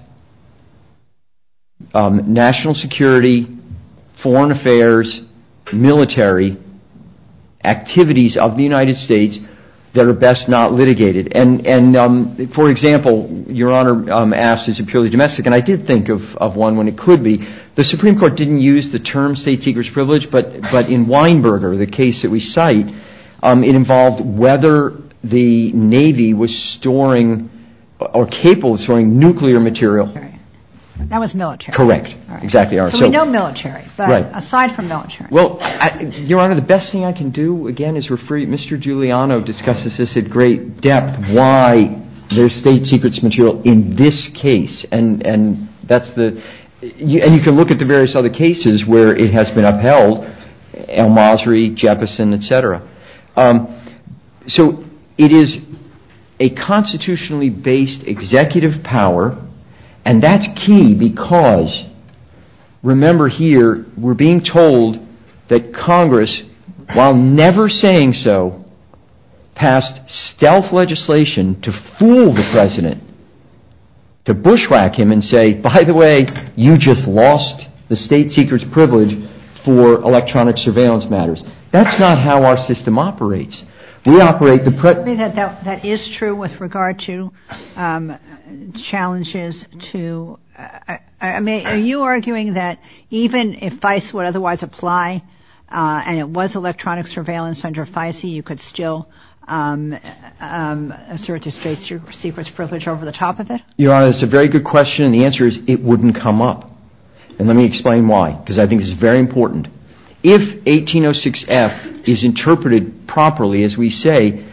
national security, foreign affairs, military activities of the United States that are best not litigated. And, for example, Your Honor asks, is it purely domestic? And I did think of one when it could be. The Supreme Court didn't use the term state secret privilege, but in Weinberger, the case that we cite, it involved whether the Navy was storing or capable of storing nuclear material. That was military. Correct. Exactly. So we know military, but aside from military. Well, Your Honor, the best thing I can do, again, is refer you... Mr. Giuliano discussed this at great depth, why there's state secrets material in this case, and that's the... And you can look at the various other cases where it has been upheld, El-Masri, Jefferson, etc. So it is a constitutionally based executive power, and that's key because, remember here, we're being told that Congress, while never saying so, passed stealth legislation to fool the president, to bushwhack him and say, by the way, you just lost the state secrets privilege for electronic surveillance matters. That's not how our system operates. We operate the... That is true with regard to challenges to... Are you arguing that even if FISA would otherwise apply, and it was electronic surveillance under FISA, you could still assert the state secrets privilege over the top of it? Your Honor, it's a very good question, and the answer is it wouldn't come up. And let me explain why, because I think it's very important. If 1806F is interpreted properly, as we say,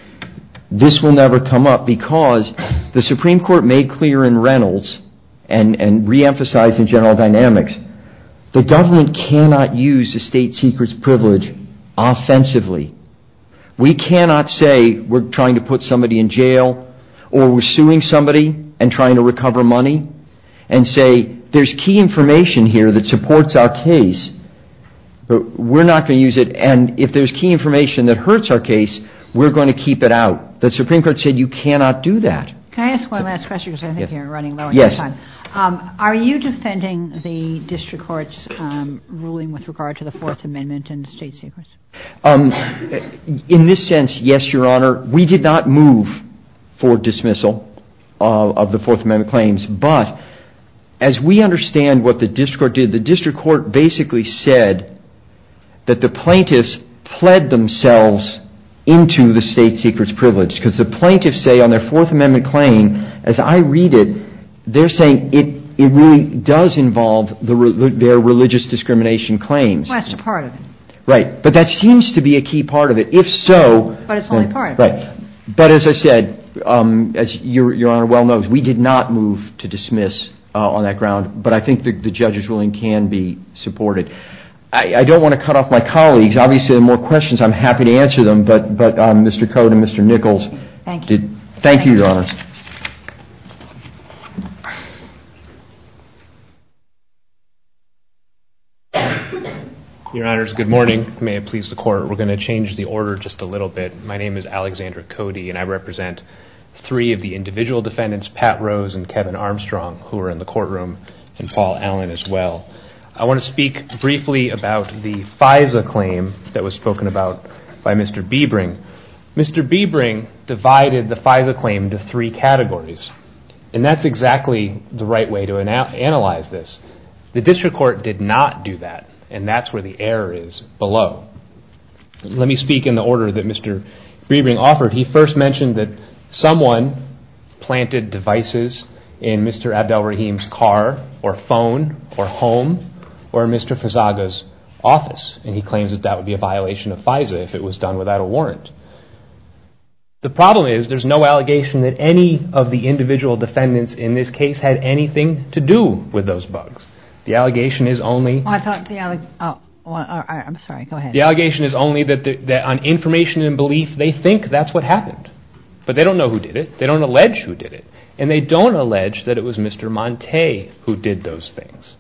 this will never come up, because the Supreme Court made clear in Reynolds, and reemphasized in General Dynamics, that government cannot use the state secrets privilege offensively. We cannot say we're trying to put somebody in jail, or we're suing somebody and trying to recover money, and say there's key information here that supports our case, but we're not going to use it, and if there's key information that hurts our case, we're going to keep it out. The Supreme Court said you cannot do that. Can I ask one last question, because I think you're running low on time? Yes. Are you defending the district court's ruling with regard to the Fourth Amendment and the state secrets? In this sense, yes, Your Honor. We did not move for dismissal of the Fourth Amendment claims, but as we understand what the district court did, the district court basically said that the plaintiffs pled themselves into the state secrets privilege, because the plaintiffs say on their Fourth Amendment claim, as I read it, they're saying it really does involve their religious discrimination claims. That's part of it. Right, but that seems to be a key part of it. But it's only part of it. But as I said, as Your Honor well knows, we did not move to dismiss on that ground, but I think the judge's ruling can be supported. I don't want to cut off my colleagues. Obviously, there are more questions. I'm happy to answer them, but Mr. Cody and Mr. Nichols, thank you, Your Honor. Your Honors, good morning. May it please the Court, we're going to change the order just a little bit. My name is Alexander Cody, and I represent three of the individual defendants, Pat Rose and Kevin Armstrong, who are in the courtroom, and Paul Allen as well. I want to speak briefly about the FISA claim that was spoken about by Mr. Biebring. Mr. Biebring divided the FISA claim into three categories, and that's exactly the right way to analyze this. The district court did not do that, and that's where the error is below. Let me speak in the order that Mr. Biebring offered. He first mentioned that someone planted devices in Mr. Abdel Rahim's car or phone or home or in Mr. Fezaga's office, and he claims that that would be a violation of FISA if it was done without a warrant. The problem is there's no allegation that any of the individual defendants in this case had anything to do with those bugs. The allegation is only that on information and belief, they think that's what happened, but they don't know who did it. They don't allege who did it, and they don't allege that it was Mr. Montay who did those things.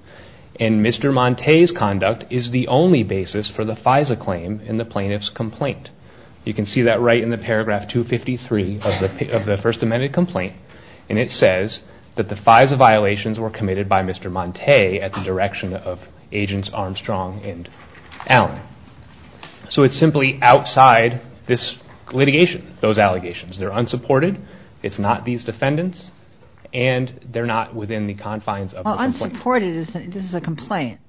And Mr. Montay's conduct is the only basis for the FISA claim in the plaintiff's complaint. You can see that right in the paragraph 253 of the First Amendment complaint, and it says that the FISA violations were committed by Mr. Montay at the direction of Agents Armstrong and Allen. So it's simply outside this litigation, those allegations. They're unsupported. It's not these defendants, and they're not within the confines of the complaint. Well, unsupported is a complaint.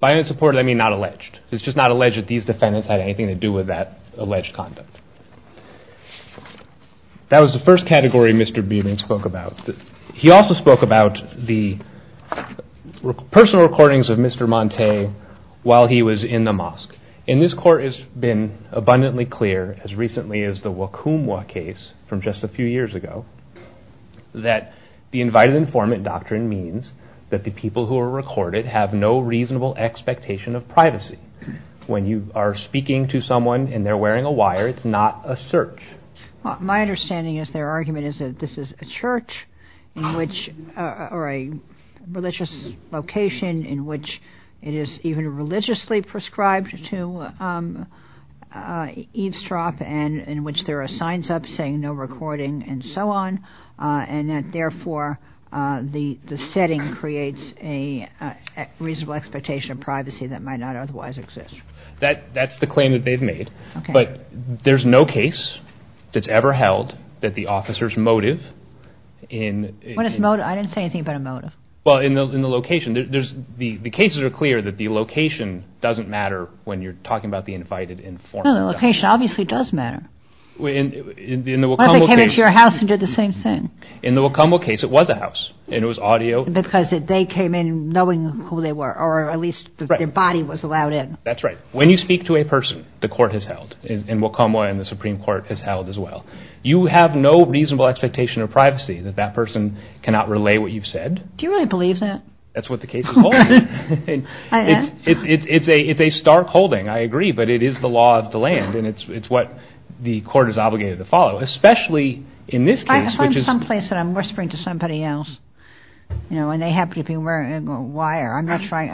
By unsupported, I mean not alleged. It's just not alleged that these defendants had anything to do with that alleged conduct. That was the first category Mr. Budin spoke about. He also spoke about the personal recordings of Mr. Montay while he was in the mosque. And this court has been abundantly clear, as recently as the Wakumwa case from just a few years ago, that the invited informant doctrine means that the people who are recorded have no reasonable expectation of privacy. When you are speaking to someone and they're wearing a wire, it's not a search. My understanding is their argument is that this is a church or a religious location in which it is even religiously prescribed to eavesdrop and in which there are signs up saying no recording and so on, and that therefore the setting creates a reasonable expectation of privacy that might not otherwise exist. That's the claim that they've made. But there's no case that's ever held that the officer's motive in... What is motive? I didn't say anything about a motive. Well, in the location, the cases are clear that the location doesn't matter when you're talking about the invited informant. No, the location obviously does matter. Unless they came into your house and did the same thing. In the Wakumwa case, it was a house, and it was audio. Because they came in knowing who they were, or at least their body was allowed in. That's right. When you speak to a person, the court has held, and Wakumwa and the Supreme Court has held as well, you have no reasonable expectation of privacy that that person cannot relay what you've said. Do you really believe that? That's what the case is holding. It's a stark holding, I agree, but it is the law of the land, and it's what the court is obligated to follow, especially in this case, which is... If I'm someplace and I'm whispering to somebody else, and they happen to be wearing a wire,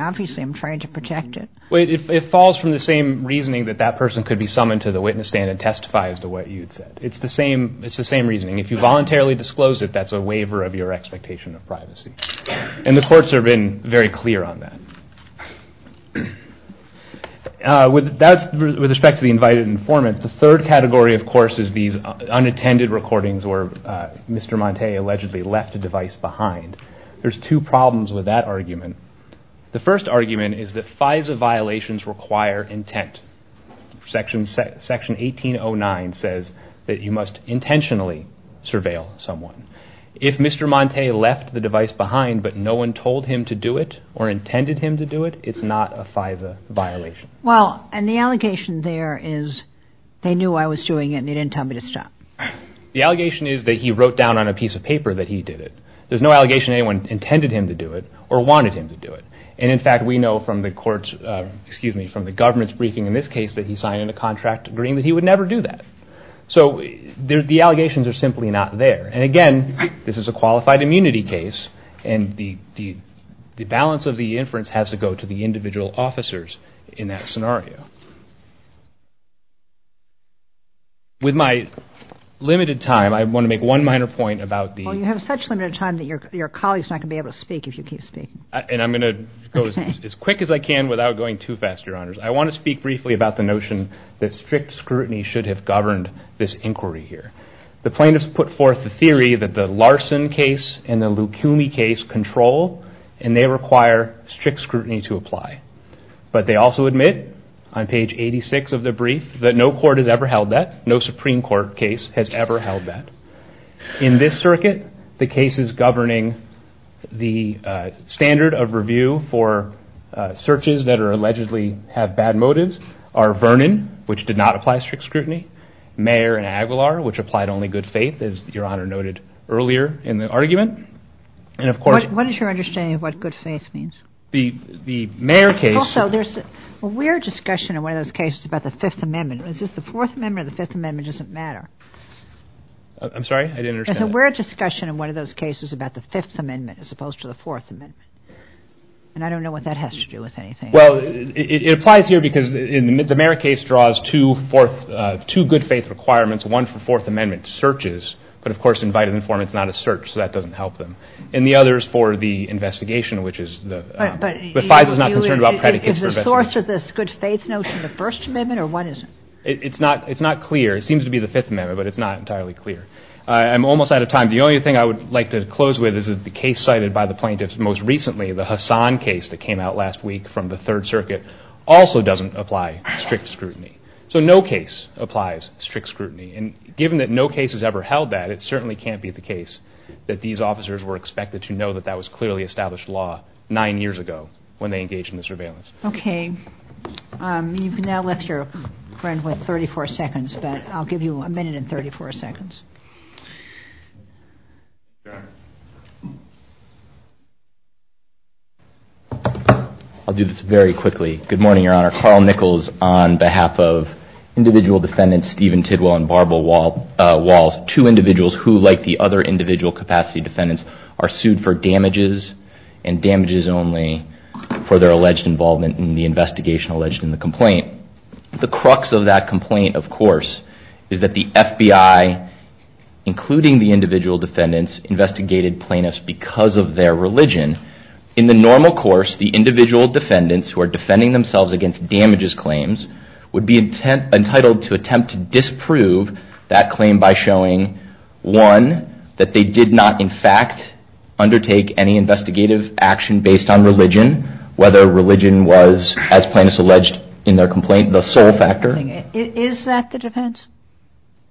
obviously I'm trying to protect it. It falls from the same reasoning that that person could be summoned to the witness stand and testify as to what you'd said. It's the same reasoning. If you voluntarily disclosed it, that's a waiver of your expectation of privacy. And the courts have been very clear on that. With respect to the invited informant, the third category, of course, is these unattended recordings where Mr. Montay allegedly left a device behind. There's two problems with that argument. The first argument is that FISA violations require intent. Section 1809 says that you must intentionally surveil someone. If Mr. Montay left the device behind but no one told him to do it or intended him to do it, it's not a FISA violation. Well, and the allegation there is they knew I was doing it and they didn't tell me to stop. The allegation is that he wrote down on a piece of paper that he did it. There's no allegation anyone intended him to do it or wanted him to do it. And, in fact, we know from the government's briefing in this case that he signed a contract agreeing that he would never do that. So the allegations are simply not there. And, again, this is a qualified immunity case, and the balance of the inference has to go to the individual officers in that scenario. With my limited time, I want to make one minor point about the— Well, you have such limited time that your colleague is not going to be able to speak if you can't speak. And I'm going to go as quick as I can without going too fast, Your Honors. I want to speak briefly about the notion that strict scrutiny should have governed this inquiry here. The plaintiffs put forth the theory that the Larson case and the Lukumi case control, and they require strict scrutiny to apply. But they also admit, on page 86 of the brief, that no court has ever held that. No Supreme Court case has ever held that. In this circuit, the cases governing the standard of review for searches that are—allegedly have bad motives are Vernon, which did not apply strict scrutiny, Mayer and Aguilar, which applied only good faith, as Your Honor noted earlier in the argument. And, of course— What is your understanding of what good faith means? The Mayer case— Also, there's a weird discussion in one of those cases about the Fifth Amendment. Is this the Fourth Amendment, or the Fifth Amendment doesn't matter? I'm sorry? I didn't understand. There's a weird discussion in one of those cases about the Fifth Amendment as opposed to the Fourth Amendment. And I don't know what that has to do with anything. Well, it applies here because the Mayer case draws two good faith requirements, one for Fourth Amendment searches, but of course in vitamin form it's not a search, so that doesn't help them. And the other is for the investigation, which is— But Aguilar, is the source of this good faith notion the First Amendment, or what is it? It's not clear. It seems to be the Fifth Amendment, but it's not entirely clear. I'm almost out of time. The only thing I would like to close with is the case cited by the plaintiffs most recently, the Hassan case that came out last week from the Third Circuit, also doesn't apply strict scrutiny. So no case applies strict scrutiny. And given that no case has ever held that, it certainly can't be the case that these officers were expected to know that that was clearly established law nine years ago when they engaged in the surveillance. Okay. You can now let your friend with 34 seconds, but I'll give you a minute and 34 seconds. I'll do this very quickly. Good morning, Your Honor. Carl Nichols on behalf of individual defendants Stephen Tidwell and Barbara Walsh, two individuals who, like the other individual capacity defendants, are sued for damages and damages only for their alleged involvement in the investigation alleged in the complaint. The crux of that complaint, of course, is that the FBI, including the individual defendants, investigated plaintiffs because of their religion. In the normal course, the individual defendants who are defending themselves against damages claims would be entitled to attempt to disprove that claim by showing, one, that they did not in fact undertake any investigative action based on religion, whether religion was, as plaintiffs alleged in their complaint, the sole factor. Is that the defense?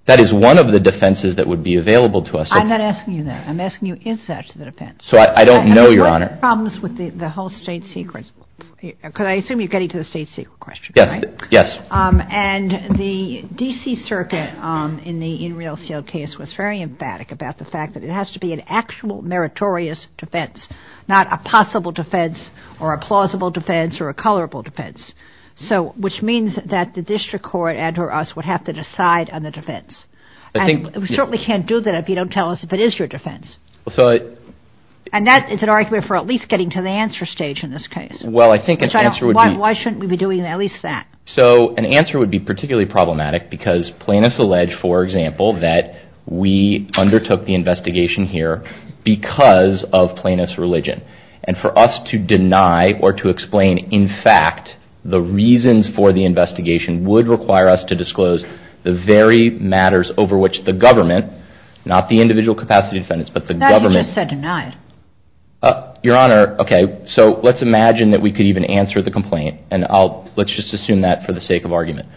That is one of the defenses that would be available to us. I'm not asking you that. I'm asking you, is that the defense? So I don't know, Your Honor. Problems with the whole state secret. Because I assume you're getting to the state secret question, right? Yes. And the D.C. Circuit in the In Real Seal case was very emphatic about the fact that it has to be an actual meritorious defense, not a possible defense or a plausible defense or a colorable defense, which means that the district court and or us would have to decide on the defense. And we certainly can't do that if you don't tell us if it is your defense. And that is an argument for at least getting to the answer stage in this case. Why shouldn't we be doing at least that? So an answer would be particularly problematic because plaintiffs allege, for example, that we undertook the investigation here because of plaintiff's religion. And for us to deny or to explain, in fact, the reasons for the investigation, would require us to disclose the very matters over which the government, not the individual capacity defendants, but the government. I just said deny. Your Honor, okay, so let's imagine that we could even answer the complaint. And let's just assume that for the sake of argument.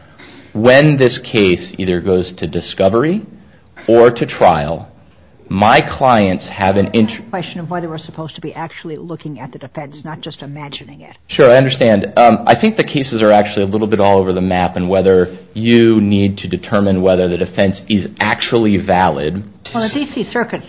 When this case either goes to discovery or to trial, my clients have an interest. It's a question of whether we're supposed to be actually looking at the defense, not just imagining it. Sure, I understand. I think the cases are actually a little bit all over the map and whether you need to determine whether the defense is actually valid. Well, the D.C. Circuit,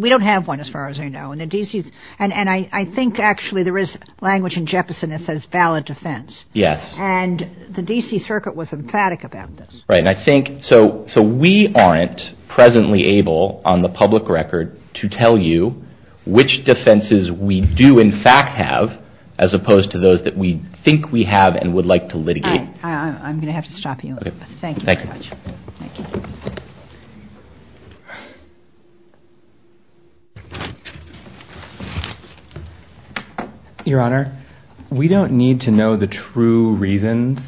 we don't have one as far as I know. And I think actually there is language in Jefferson that says valid defense. Yes. And the D.C. Circuit was emphatic about this. Right. So we aren't presently able on the public record to tell you which defenses we do in fact have as opposed to those that we think we have and would like to litigate. I'm going to have to stop you. Thank you very much. Thank you. Your Honor, we don't need to know the true reasons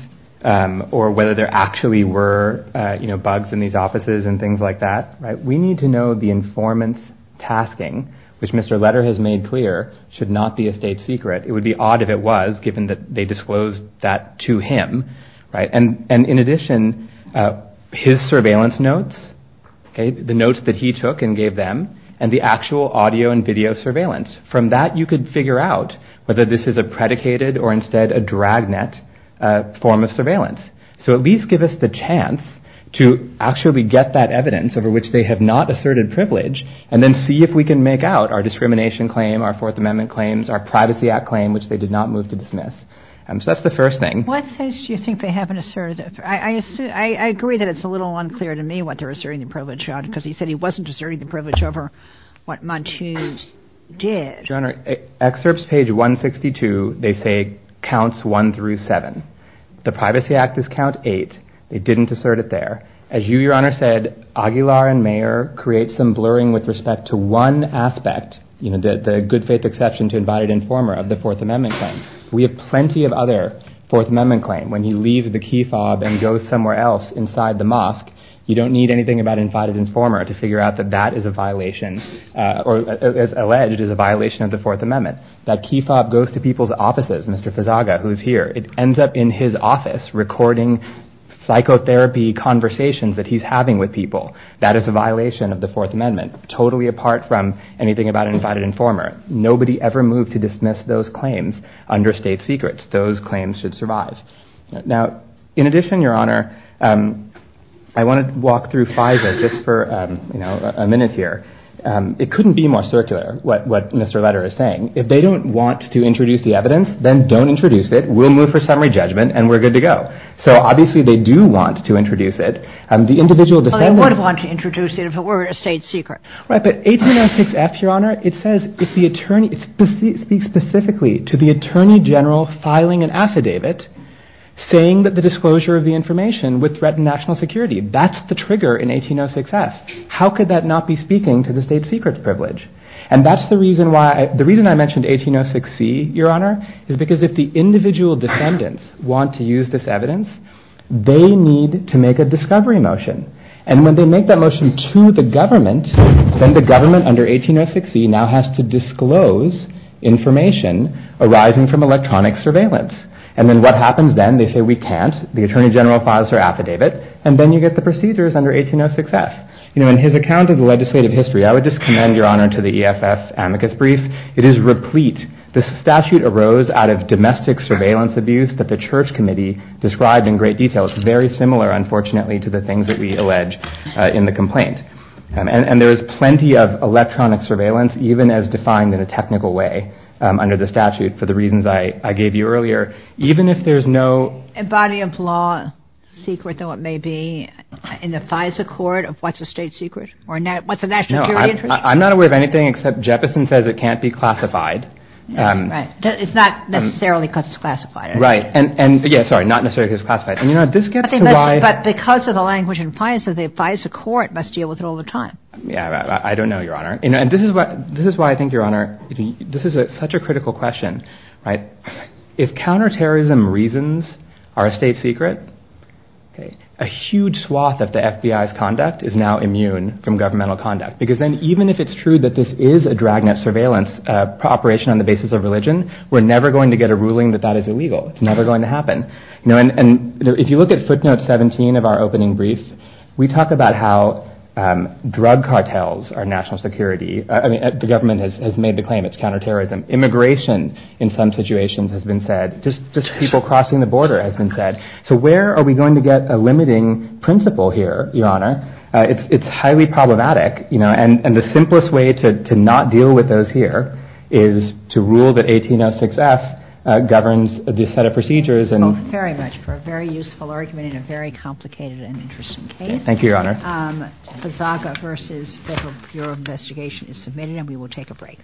or whether there actually were, you know, bugs in these offices and things like that. We need to know the informant's tasking, which Mr. Letter has made clear, should not be a state secret. It would be odd if it was, given that they disclosed that to him. And in addition, his surveillance notes, the notes that he took and gave them, and the actual audio and video surveillance. From that, you could figure out whether this is a predicated or instead a dragnet form of surveillance. So at least give us the chance to actually get that evidence over which they have not asserted privilege and then see if we can make out our discrimination claim, our Fourth Amendment claims, our Privacy Act claim, which they did not move to dismiss. So that's the first thing. What sense do you think they haven't asserted? I agree that it's a little unclear to me what they're asserting the privilege on, because he said he wasn't asserting the privilege over what Montague did. Your Honor, excerpts page 162, they say counts one through seven. The Privacy Act is count eight. They didn't assert it there. As you, Your Honor, said, Aguilar and Mayer create some blurring with respect to one aspect, you know, the good faith exception to invited informer of the Fourth Amendment claim. We have plenty of other Fourth Amendment claims. When you leave the key fob and go somewhere else inside the mosque, you don't need anything about invited informer to figure out that that is a violation or is alleged as a violation of the Fourth Amendment. That key fob goes to people's offices, Mr. Fezaga, who is here. It ends up in his office recording psychotherapy conversations that he's having with people. That is a violation of the Fourth Amendment, totally apart from anything about invited informer. Nobody ever moved to dismiss those claims under state secrets. Those claims should survive. Now, in addition, Your Honor, I want to walk through FISA just for, you know, a minute here. It couldn't be more circular what Mr. Letter is saying. If they don't want to introduce the evidence, then don't introduce it. We'll move for summary judgment, and we're good to go. So obviously they do want to introduce it. The individual defendants— They would have wanted to introduce it if it were a state secret. Right, but 1806F, Your Honor, it speaks specifically to the attorney general filing an affidavit saying that the disclosure of the information would threaten national security. That's the trigger in 1806F. How could that not be speaking to the state secrets privilege? And that's the reason why—the reason I mentioned 1806C, Your Honor, is because if the individual defendants want to use this evidence, they need to make a discovery motion. And when they make that motion to the government, then the government under 1806C now has to disclose information arising from electronic surveillance. And then what happens then? They say, we can't. The attorney general files their affidavit, and then you get the procedures under 1806F. You know, in his account of legislative history— I would just commend, Your Honor, to the EFS amicus brief— it is replete. The statute arose out of domestic surveillance abuse that the Church Committee described in great detail. It's very similar, unfortunately, to the things that we allege in the complaint. And there's plenty of electronic surveillance, even as defined in a technical way under the statute, for the reasons I gave you earlier. Even if there's no— A body of law secret, though it may be, in the FISA court of what's a state secret? Or what's a national security interest? I'm not aware of anything except Jefferson says it can't be classified. Right. It's not necessarily classified. Right. And, yeah, sorry, not necessarily classified. But because of the language in FISA, the FISA court must deal with it all the time. Yeah, I don't know, Your Honor. This is why I think, Your Honor, this is such a critical question. If counterterrorism reasons are a state secret, a huge swath of the FBI's conduct is now immune from governmental conduct. Because then, even if it's true that this is a dragnet surveillance operation on the basis of religion, we're never going to get a ruling that that is illegal. It's never going to happen. And if you look at footnote 17 of our opening brief, we talk about how drug cartels are national security. I mean, the government has made the claim it's counterterrorism. Immigration, in some situations, has been said. Just people crossing the border has been said. So where are we going to get a limiting principle here, Your Honor? It's highly problematic. And the simplest way to not deal with those here is to rule that 1806F governs this set of procedures. Thank you very much for a very useful argument in a very complicated and interesting case. Thank you, Your Honor. The FISAGA versus Federal Bureau of Investigation is submitted, and we will take a break.